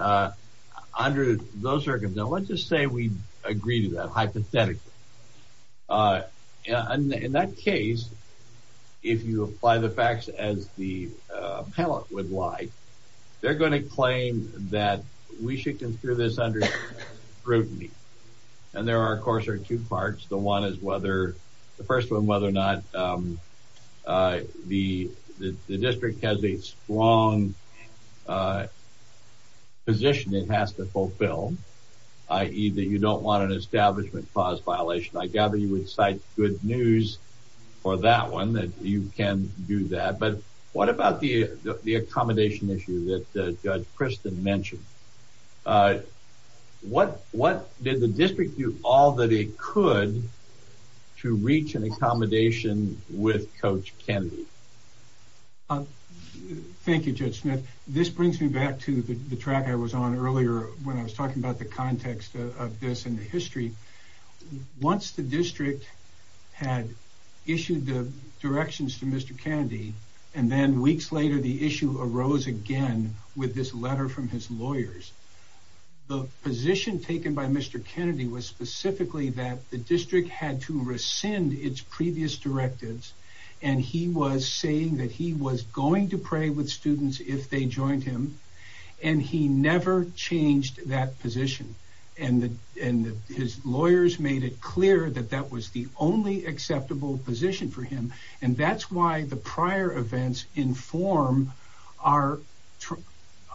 under those circumstances, let's just say we agree to that hypothetically. In that case, if you apply the facts as the appellate would like, they're going to claim that we should consider this under scrutiny. And there are, of course, are two parts. The one is whether, the first one, whether or not the district has a strong position it has to fulfill, i.e. that you don't want an establishment clause violation. I gather you would cite good news for that one, that you can do that. But what about the, the accommodation issue that Judge Kristen mentioned? What, what did the district do all that it could to reach an accommodation with Coach Kennedy? Thank you, Judge Smith. This brings me back to the track I was on earlier when I was talking about the context of this and the history. Once the district had issued the directions to Mr. Kennedy, and then weeks later the issue arose again with this letter from his lawyers, the position taken by Mr. Kennedy was specifically that the district had to rescind its previous directives. And he was saying that he was going to pray with students if they joined him. And he never changed that position. And his lawyers made it clear that that was the only acceptable position for him. And that's why the prior events inform our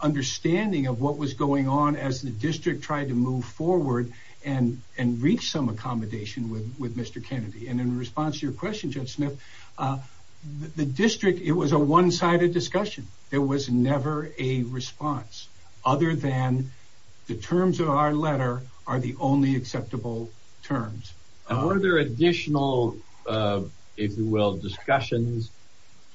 understanding of what was going on as the district tried to move forward and reach some accommodation with Mr. Kennedy. And in response to your question, Judge Smith, the district, it was a one-sided discussion. There was never a response other than the terms of our letter are the only acceptable terms. Are there additional, if you will, discussions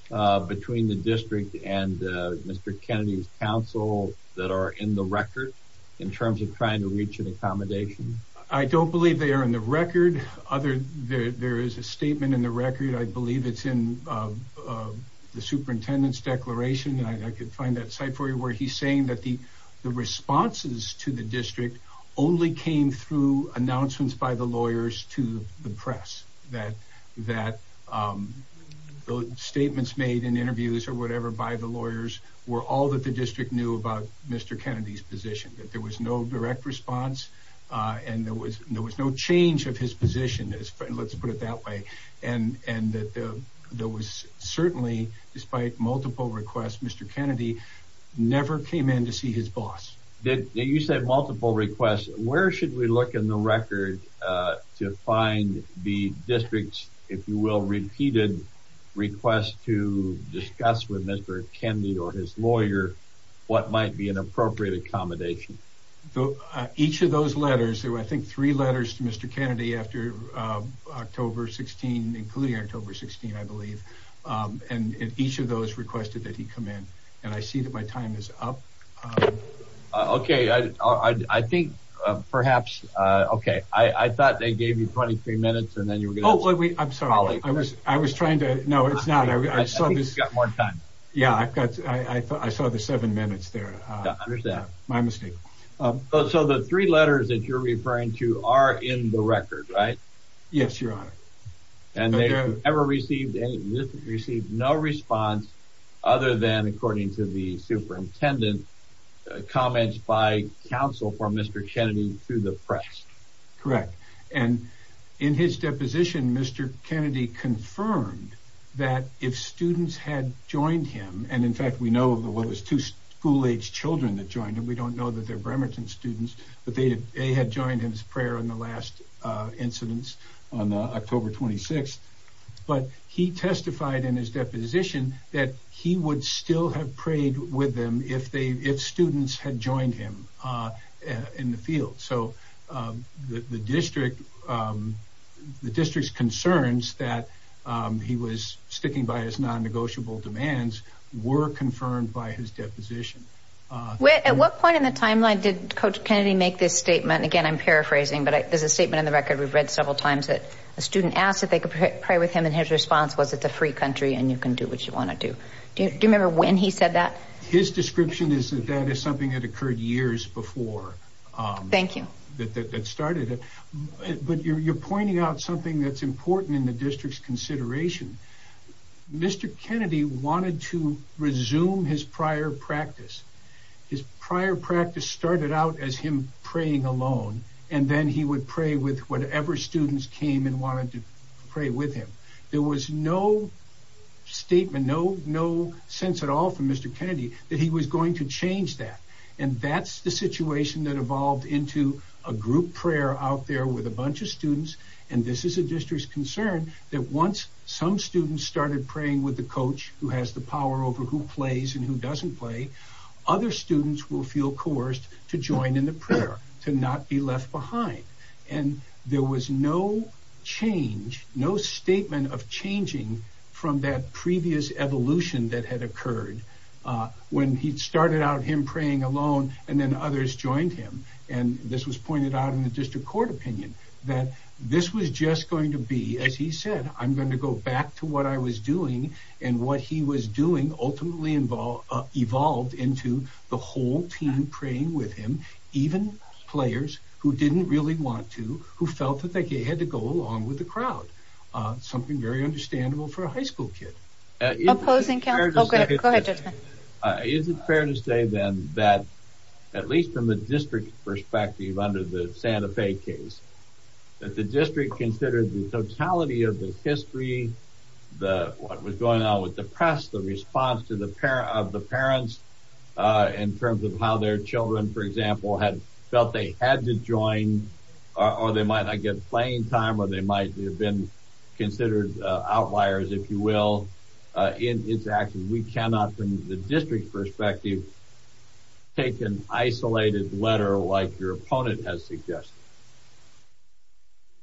between the district and Mr. Kennedy's counsel that are in the record in terms of trying to reach an accommodation? I don't believe they are in the record. Other, there is a statement in the record. I believe it's in the superintendent's declaration. And I could find that site for you where he's saying that the responses to the district only came through announcements by the lawyers to the press. That the statements made in interviews or whatever by the lawyers were all that the district knew about Mr. Kennedy's position. That there was no direct response and there was no change of his position. Let's put it that way. And that there was certainly, despite multiple requests, Mr. Kennedy never came in to see his boss. You said multiple requests. Where should we look in the record to find the district's, if you will, repeated requests to discuss with Mr. Kennedy or his lawyer what might be an appropriate accommodation? Each of those letters, there were three letters to Mr. Kennedy after October 16, including October 16, I believe. And each of those requested that he come in. And I see that my time is up. Okay. I think perhaps, okay. I thought they gave you 23 minutes and then you were going to... Oh, I'm sorry. I was trying to, no, it's not. I think you've got more time. Yeah. I saw the seven minutes there. My mistake. So the three letters that you're referring to are in the record, right? Yes, your honor. And they've never received any, received no response other than according to the superintendent comments by counsel for Mr. Kennedy to the press. Correct. And in his deposition, Mr. Kennedy confirmed that if students had joined him, and in fact, we know of the, what was two school aged children that joined him. We don't know that they're Bremerton students, but they had joined him as prayer in the last incidents on October 26th. But he testified in his deposition that he would still have prayed with them if they, if students had joined him in the field. So the district, the district's concerns that he was sticking by his non-negotiable demands were confirmed by his deposition. At what point in the timeline did coach Kennedy make this statement? Again, I'm paraphrasing, but there's a statement in the record. We've read several times that a student asked that they could pray with him. And his response was it's a free country and you can do what you want to do. Do you remember when he said that? His description is that that is something that occurred years before. Thank you. That, that, that started it, but you're pointing out something that's important in the district's consideration. Mr. Kennedy wanted to resume his prior practice. His prior practice started out as him praying alone. And then he would pray with whatever students came and wanted to pray with him. There was no statement, no, no sense at all from Mr. Kennedy that he was going to change that. And that's the situation that evolved into a group prayer out there with a bunch of students. And this is a district's concern that once some students started praying with the coach who has the power over who plays and who doesn't play, other students will feel coerced to join in the prayer, to not be left behind. And there was no change, no statement of changing from that previous evolution that had occurred when he'd started out him praying alone and then others joined him. And this was pointed out in the district court opinion that this was just going to be, as he said, I'm going to go back to what I was doing. And what he was doing ultimately evolved into the whole team praying with him, even players who didn't really want to, who felt that they had to go along with the crowd. Something very understandable for a high school kid. Opposing counsel? Oh, go ahead, Judgeman. Is it fair to say then that, at least from a district perspective under the Santa Fe case, that the district considered the totality of the history, what was going on with the press, the response of the parents in terms of how their children, for example, had felt they had to join, or they might not get playing time, or they might have been considered outliers, if you will, in its actions? We cannot, from the district's perspective, take an isolated letter like your opponent has suggested.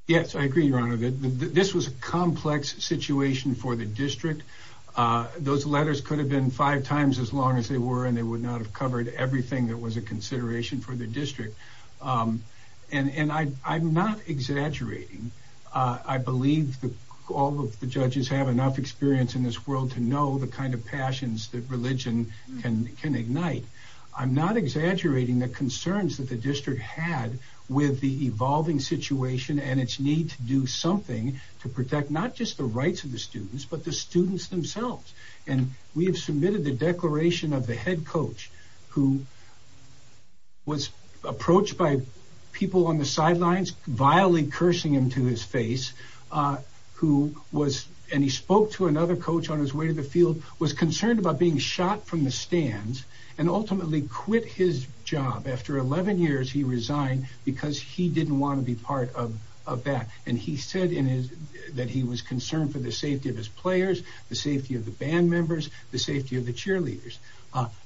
Yes, I agree, Your Honor. This was a complex situation for the district. Those letters could have been five times as long as they were, and they would not have covered everything that was a consideration for the district. And I'm not exaggerating. I believe that all of the judges have enough experience in this world to know the kind of passions that religion can ignite. I'm not exaggerating the concerns that the district had with the evolving situation and its need to do something to protect not just the rights of the students, but the students themselves. And we have submitted the declaration of the head coach, who was approached by people on the another coach on his way to the field, was concerned about being shot from the stands, and ultimately quit his job. After 11 years, he resigned because he didn't want to be part of that. And he said that he was concerned for the safety of his players, the safety of the band members, the safety of the cheerleaders.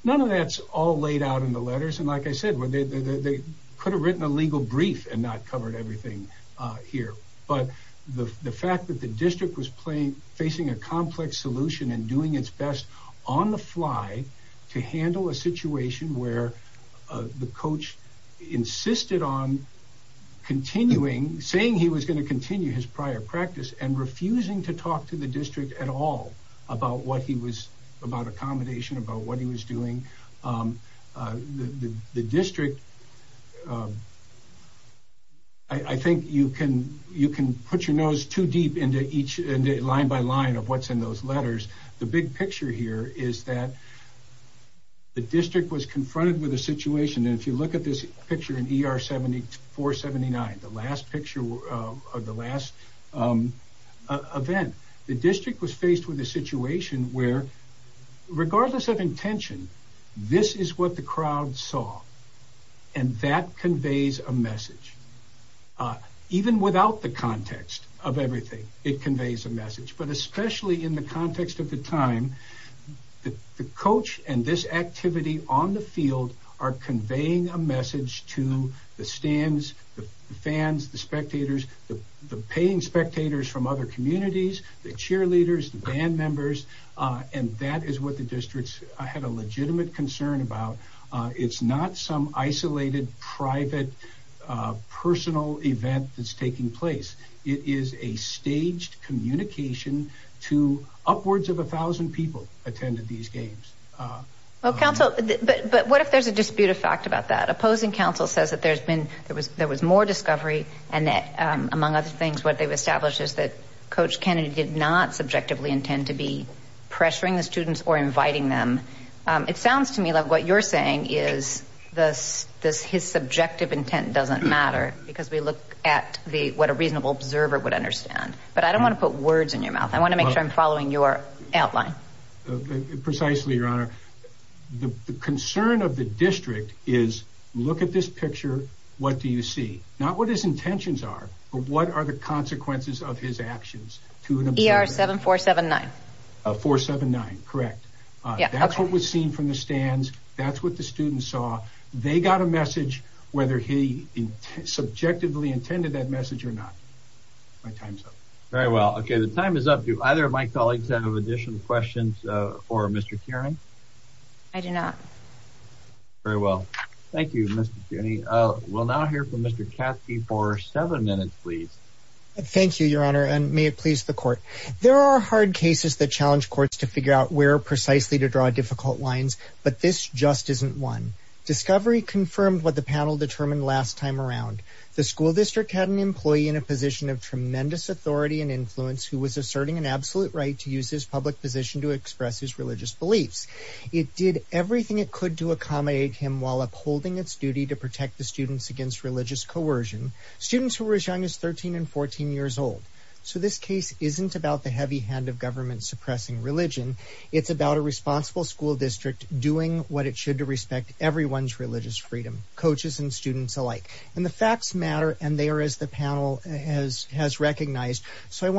None of that's all laid out in the letters. And like I said, they could have written a legal brief and not covered everything here. But the fact that the district was facing a complex solution and doing its best on the fly to handle a situation where the coach insisted on continuing, saying he was going to continue his prior practice, and refusing to talk to the district at all about what he was, about accommodation, about what he was doing. The district, I think you can put your nose too deep into each line by line of what's in those letters. The big picture here is that the district was confronted with a situation, and if you look at this picture in ER 7479, the last picture of the last event, the district was faced with a situation where, regardless of intention, this is what the crowd saw. And that conveys a message. Even without the context of everything, it conveys a message. But especially in the context of the time, the coach and this activity on the field are conveying a message. The cheerleaders, the band members, and that is what the district had a legitimate concern about. It's not some isolated, private, personal event that's taking place. It is a staged communication to upwards of a thousand people attended these games. But what if there's a dispute of fact about that? Opposing counsel says that there was more discovery and that, what they've established is that Coach Kennedy did not subjectively intend to be pressuring the students or inviting them. It sounds to me like what you're saying is his subjective intent doesn't matter because we look at what a reasonable observer would understand. But I don't want to put words in your mouth. I want to make sure I'm following your outline. Precisely, Your Honor. The concern of the district is, look at this picture. What do you see? Not what his intentions are, but what are the consequences of his actions. ER 7479. 479, correct. That's what was seen from the stands. That's what the students saw. They got a message, whether he subjectively intended that message or not. My time's up. Very well. Okay. The time is up. Do either of my colleagues have additional questions for Mr. Kearney? I do not. Very well. Thank you, Mr. Kearney. We'll now hear from Mr. Katsky for seven minutes, please. Thank you, Your Honor, and may it please the court. There are hard cases that challenge courts to figure out where precisely to draw difficult lines, but this just isn't one. Discovery confirmed what the panel determined last time around. The school district had an employee in a position of tremendous authority and influence who was asserting an beliefs. It did everything it could to accommodate him while upholding its duty to protect the students against religious coercion. Students who were as young as 13 and 14 years old. So this case isn't about the heavy hand of government suppressing religion. It's about a responsible school district doing what it should to respect everyone's religious freedom, coaches and students alike. And the facts matter, and they are as the panel has recognized. So I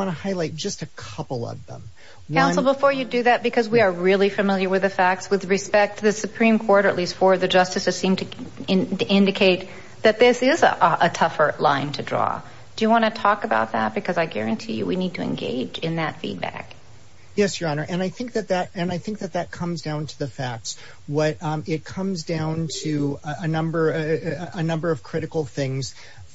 do that because we are really familiar with the facts with respect to the Supreme Court, at least for the justices seem to indicate that this is a tougher line to draw. Do you want to talk about that? Because I guarantee you we need to engage in that feedback. Yes, Your Honor. And I think that that and I think that that comes down to the facts. What it comes down to a number of critical things.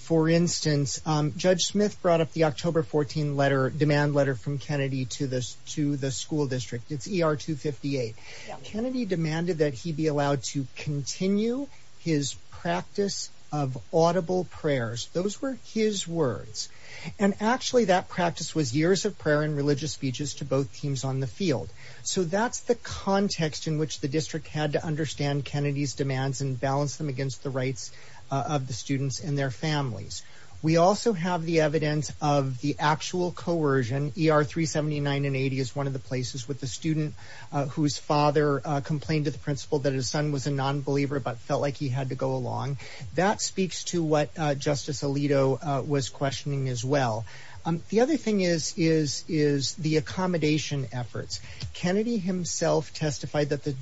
For instance, Judge Smith brought up the October 14 letter demand letter from Kennedy to this to the school district. It's ER 258. Kennedy demanded that he be allowed to continue his practice of audible prayers. Those were his words. And actually, that practice was years of prayer and religious speeches to both teams on the field. So that's the context in which the district had to understand Kennedy's demands and balance them against the rights of the students and their families. We also have the evidence of the actual coercion. ER 379 and 80 is one of the places with the student whose father complained to the principal that his son was a nonbeliever but felt like he had to go along. That speaks to what Justice Alito was questioning as well. The other thing is is is the accommodation efforts. Kennedy himself testified that the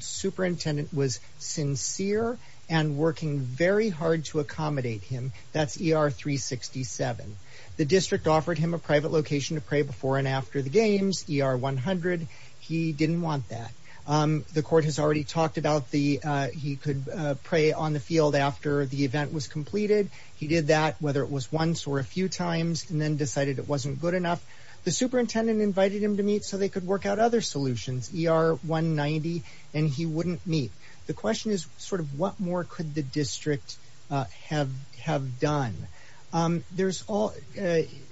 him. That's ER 367. The district offered him a private location to pray before and after the games. ER 100. He didn't want that. The court has already talked about the he could pray on the field after the event was completed. He did that whether it was once or a few times and then decided it wasn't good enough. The superintendent invited him to meet so they could work out other solutions. ER 190 and he wouldn't meet. The question is sort of what more could the district have have done. There's all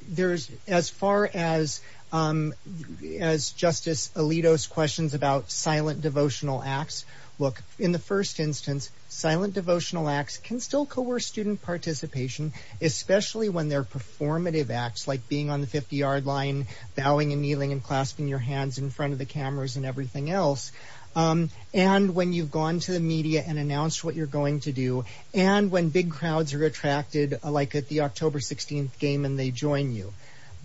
there's as far as as Justice Alito's questions about silent devotional acts. Look in the first instance silent devotional acts can still coerce student participation especially when they're performative acts like being on the 50-yard line bowing and kneeling and clasping your hands in front of the cameras and everything else and when you've gone to the media and announced what you're going to do and when big crowds are attracted like at the October 16th game and they join you.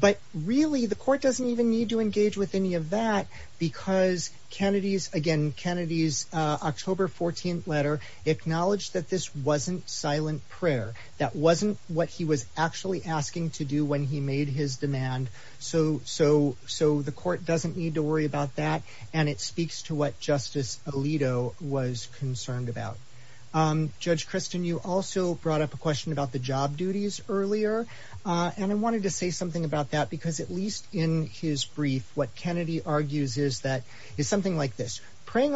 But really the court doesn't even need to engage with any of that because Kennedy's again Kennedy's October 14th letter acknowledged that this wasn't silent prayer that wasn't what he was actually asking to do when he made his demand so so so the court doesn't need to worry about that and it speaks to what Justice Alito was concerned about. Judge Kristen you also brought up a question about the job duties earlier and I wanted to say something about that because at least in his brief what Kennedy argues is that is something like this that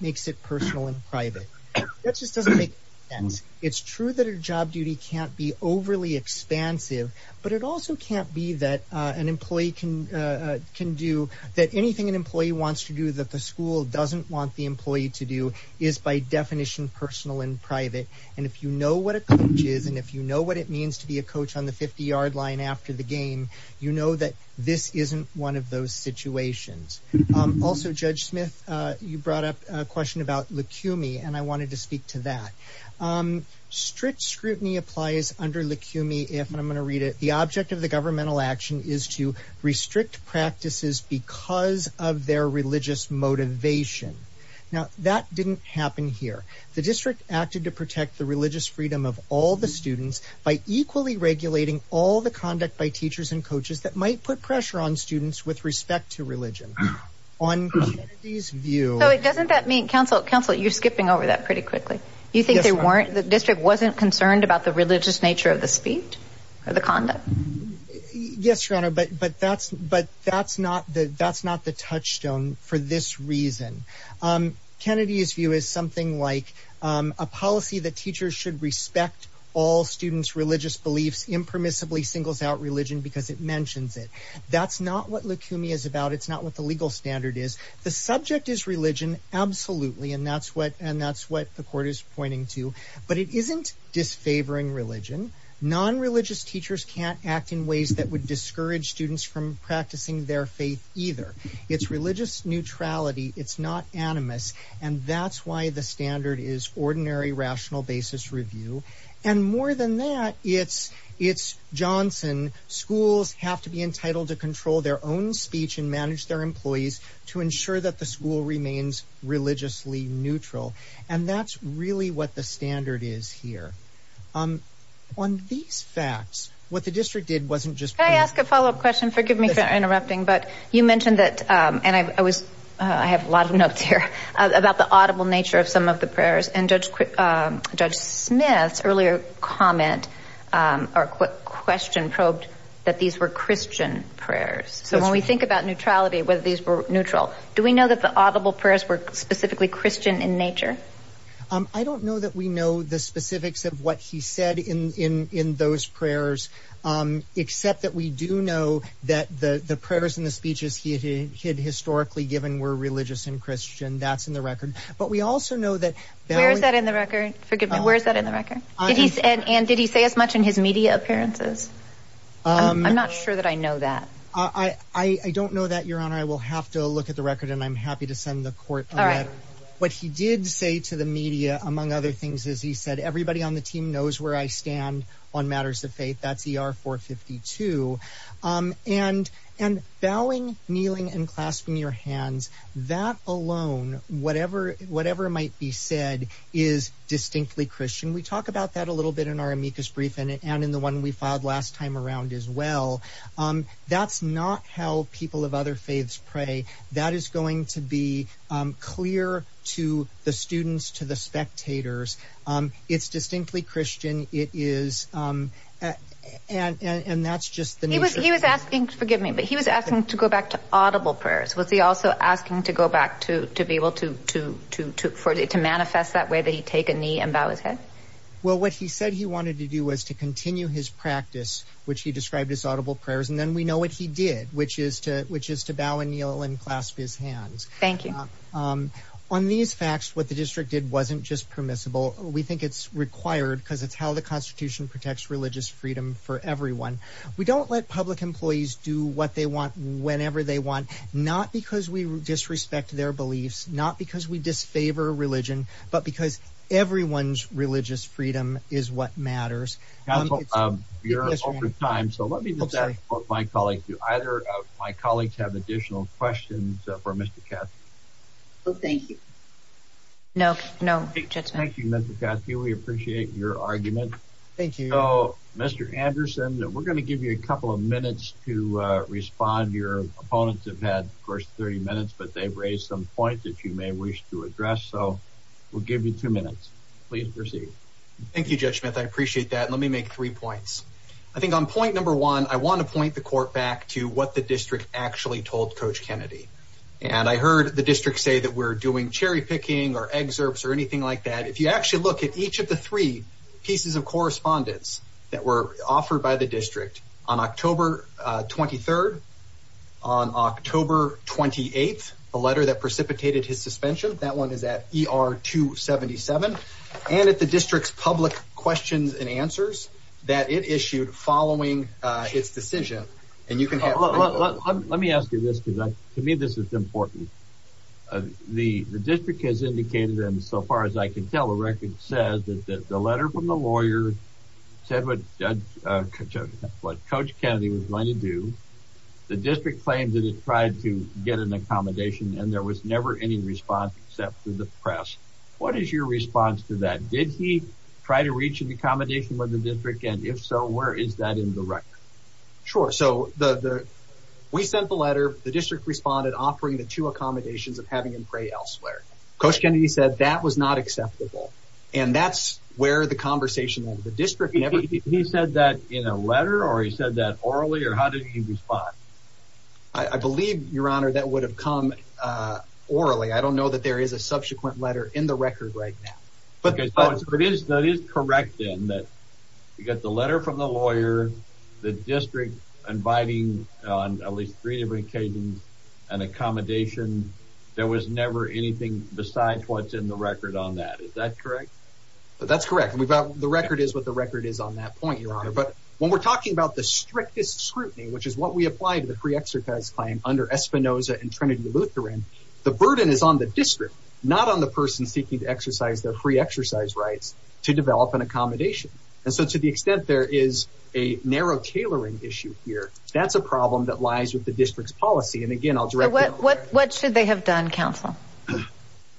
makes it personal and private. That just doesn't make sense. It's true that a job duty can't be overly expansive but it also can't be that an employee can can do that anything an employee wants to do that the school doesn't want the employee to do is by definition personal and private and if you know what a coach is and if you know what it means to be a coach on the 50-yard line after the game you know that this isn't one of those situations. Also Judge Smith you brought a question about Lukumi and I wanted to speak to that. Strict scrutiny applies under Lukumi if and I'm going to read it the object of the governmental action is to restrict practices because of their religious motivation. Now that didn't happen here. The district acted to protect the religious freedom of all the students by equally regulating all the conduct by teachers and coaches that might put pressure on students with respect to religion on Kennedy's view. So it doesn't that mean counsel counsel you're skipping over that pretty quickly. You think they weren't the district wasn't concerned about the religious nature of the speech or the conduct? Yes your honor but but that's but that's not the that's not the touchstone for this reason. Kennedy's view is something like a policy that teachers should respect all students religious beliefs impermissibly singles out because it mentions it. That's not what Lukumi is about. It's not what the legal standard is. The subject is religion absolutely and that's what and that's what the court is pointing to but it isn't disfavoring religion. Non-religious teachers can't act in ways that would discourage students from practicing their faith either. It's religious neutrality. It's not animus and that's the standard is ordinary rational basis review and more than that it's it's Johnson schools have to be entitled to control their own speech and manage their employees to ensure that the school remains religiously neutral and that's really what the standard is here. On these facts what the district did wasn't just. Can I ask a follow-up question? Forgive me for interrupting but you mentioned that and I was I have a lot of notes here about the audible nature of some of the prayers and Judge Smith's earlier comment or question probed that these were Christian prayers. So when we think about neutrality whether these were neutral do we know that the audible prayers were specifically Christian in nature? I don't know that we know the specifics of what he had historically given were religious and Christian. That's in the record but we also know that. Where is that in the record? Forgive me where is that in the record? Did he said and did he say as much in his media appearances? I'm not sure that I know that. I don't know that your honor. I will have to look at the record and I'm happy to send the court. All right. What he did say to the media among other things is he said everybody on the team knows where I stand on matters of faith. That's ER 452 and bowing kneeling and clasping your hands that alone whatever might be said is distinctly Christian. We talk about that a little bit in our amicus brief and in the one we filed last time around as well. That's not how people of other faiths pray. That is going to be and and that's just the nature. He was he was asking forgive me but he was asking to go back to audible prayers. Was he also asking to go back to to be able to to to to for it to manifest that way that he take a knee and bow his head? Well what he said he wanted to do was to continue his practice which he described as audible prayers and then we know what he did which is to which is to bow and kneel and clasp his hands. Thank you. On these facts what the district did wasn't just permissible. We think it's required because it's how the constitution protects religious freedom for everyone. We don't let public employees do what they want whenever they want not because we disrespect their beliefs not because we disfavor religion but because everyone's religious freedom is what matters. Council um you're over time so let me just ask both my colleagues do either of my colleagues have additional questions for Mr. Cassidy. Well thank we're going to give you a couple of minutes to respond. Your opponents have had first 30 minutes but they've raised some points that you may wish to address so we'll give you two minutes. Please proceed. Thank you Judge Smith. I appreciate that. Let me make three points. I think on point number one I want to point the court back to what the district actually told Coach Kennedy and I heard the district say that we're doing cherry picking or excerpts or anything like that. If you actually look at each of the three pieces of correspondence that were offered by the district on October 23rd on October 28th the letter that precipitated his suspension that one is at ER 277 and at the district's public questions and answers that it issued following uh its decision and you can have let me ask you this because to me this is important. The the district has indicated and so far as I can tell a record says that the letter from the lawyer said what what Coach Kennedy was going to do. The district claimed that it tried to get an accommodation and there was never any response except through the press. What is your response to that? Did he try to reach an accommodation with the district and if so where is that in the record? Sure so the the we sent the letter the district responded offering the two accommodations of having him pray elsewhere. Coach Kennedy said that was not acceptable and that's where the conversation with the district never he said that in a letter or he said that orally or how did he respond? I believe your honor that would have come uh orally. I don't know that there is a subsequent letter in the record right now. Okay so it is that is correct then that you got the letter from the anything besides what's in the record on that. Is that correct? That's correct we've got the record is what the record is on that point your honor but when we're talking about the strictest scrutiny which is what we apply to the free exercise claim under Espinosa and Trinity Lutheran the burden is on the district not on the person seeking to exercise their free exercise rights to develop an accommodation and so to the extent there is a narrow tailoring issue here that's a problem that lies with the district's policy and again I'll direct what what should they have done counsel.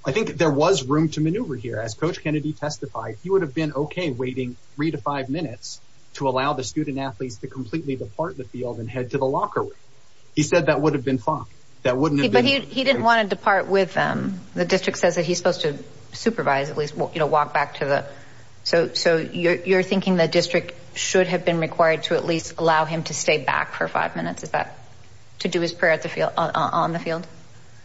I think there was room to maneuver here as coach Kennedy testified he would have been okay waiting three to five minutes to allow the student athletes to completely depart the field and head to the locker room. He said that would have been fine that wouldn't have been he didn't want to depart with them the district says that he's supposed to supervise at least you know walk back to the so so you're you're thinking the district should have been required to at least allow him to stay back for five minutes is that to do his prayer at the field on the field?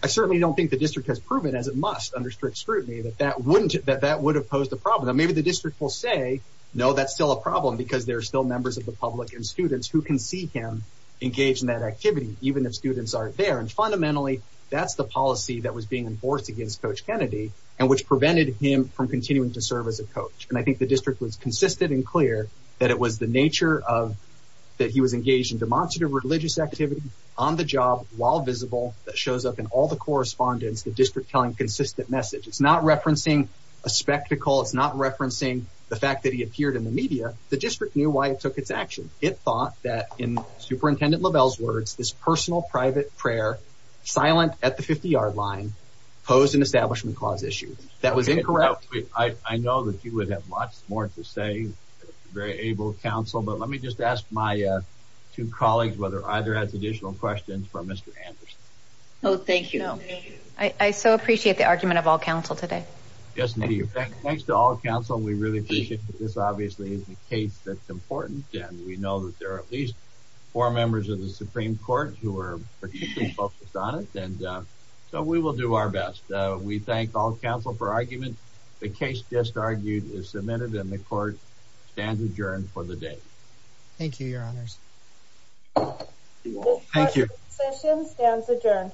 I district has proven as it must under strict scrutiny that that wouldn't that that would have posed a problem maybe the district will say no that's still a problem because there are still members of the public and students who can see him engaged in that activity even if students aren't there and fundamentally that's the policy that was being enforced against coach Kennedy and which prevented him from continuing to serve as a coach and I think the district was consistent and clear that it was the nature of that he was engaged in demonstrative religious activity on the job while visible that shows up in all the correspondence the district telling consistent message it's not referencing a spectacle it's not referencing the fact that he appeared in the media the district knew why it took its action it thought that in superintendent Lovell's words this personal private prayer silent at the 50-yard line posed an establishment clause issue that was incorrect. I know that you would have much more to say very able counsel but let me just ask my two colleagues whether either has additional questions for Mr. Anderson. No thank you. I so appreciate the argument of all counsel today. Yes indeed thanks to all counsel we really appreciate this obviously is the case that's important and we know that there are at least four members of the supreme court who are particularly focused on it and so we will do our best. We thank all counsel for argument the case just argued is submitted and the court stands adjourned for the thank you your honors thank you session stands adjourned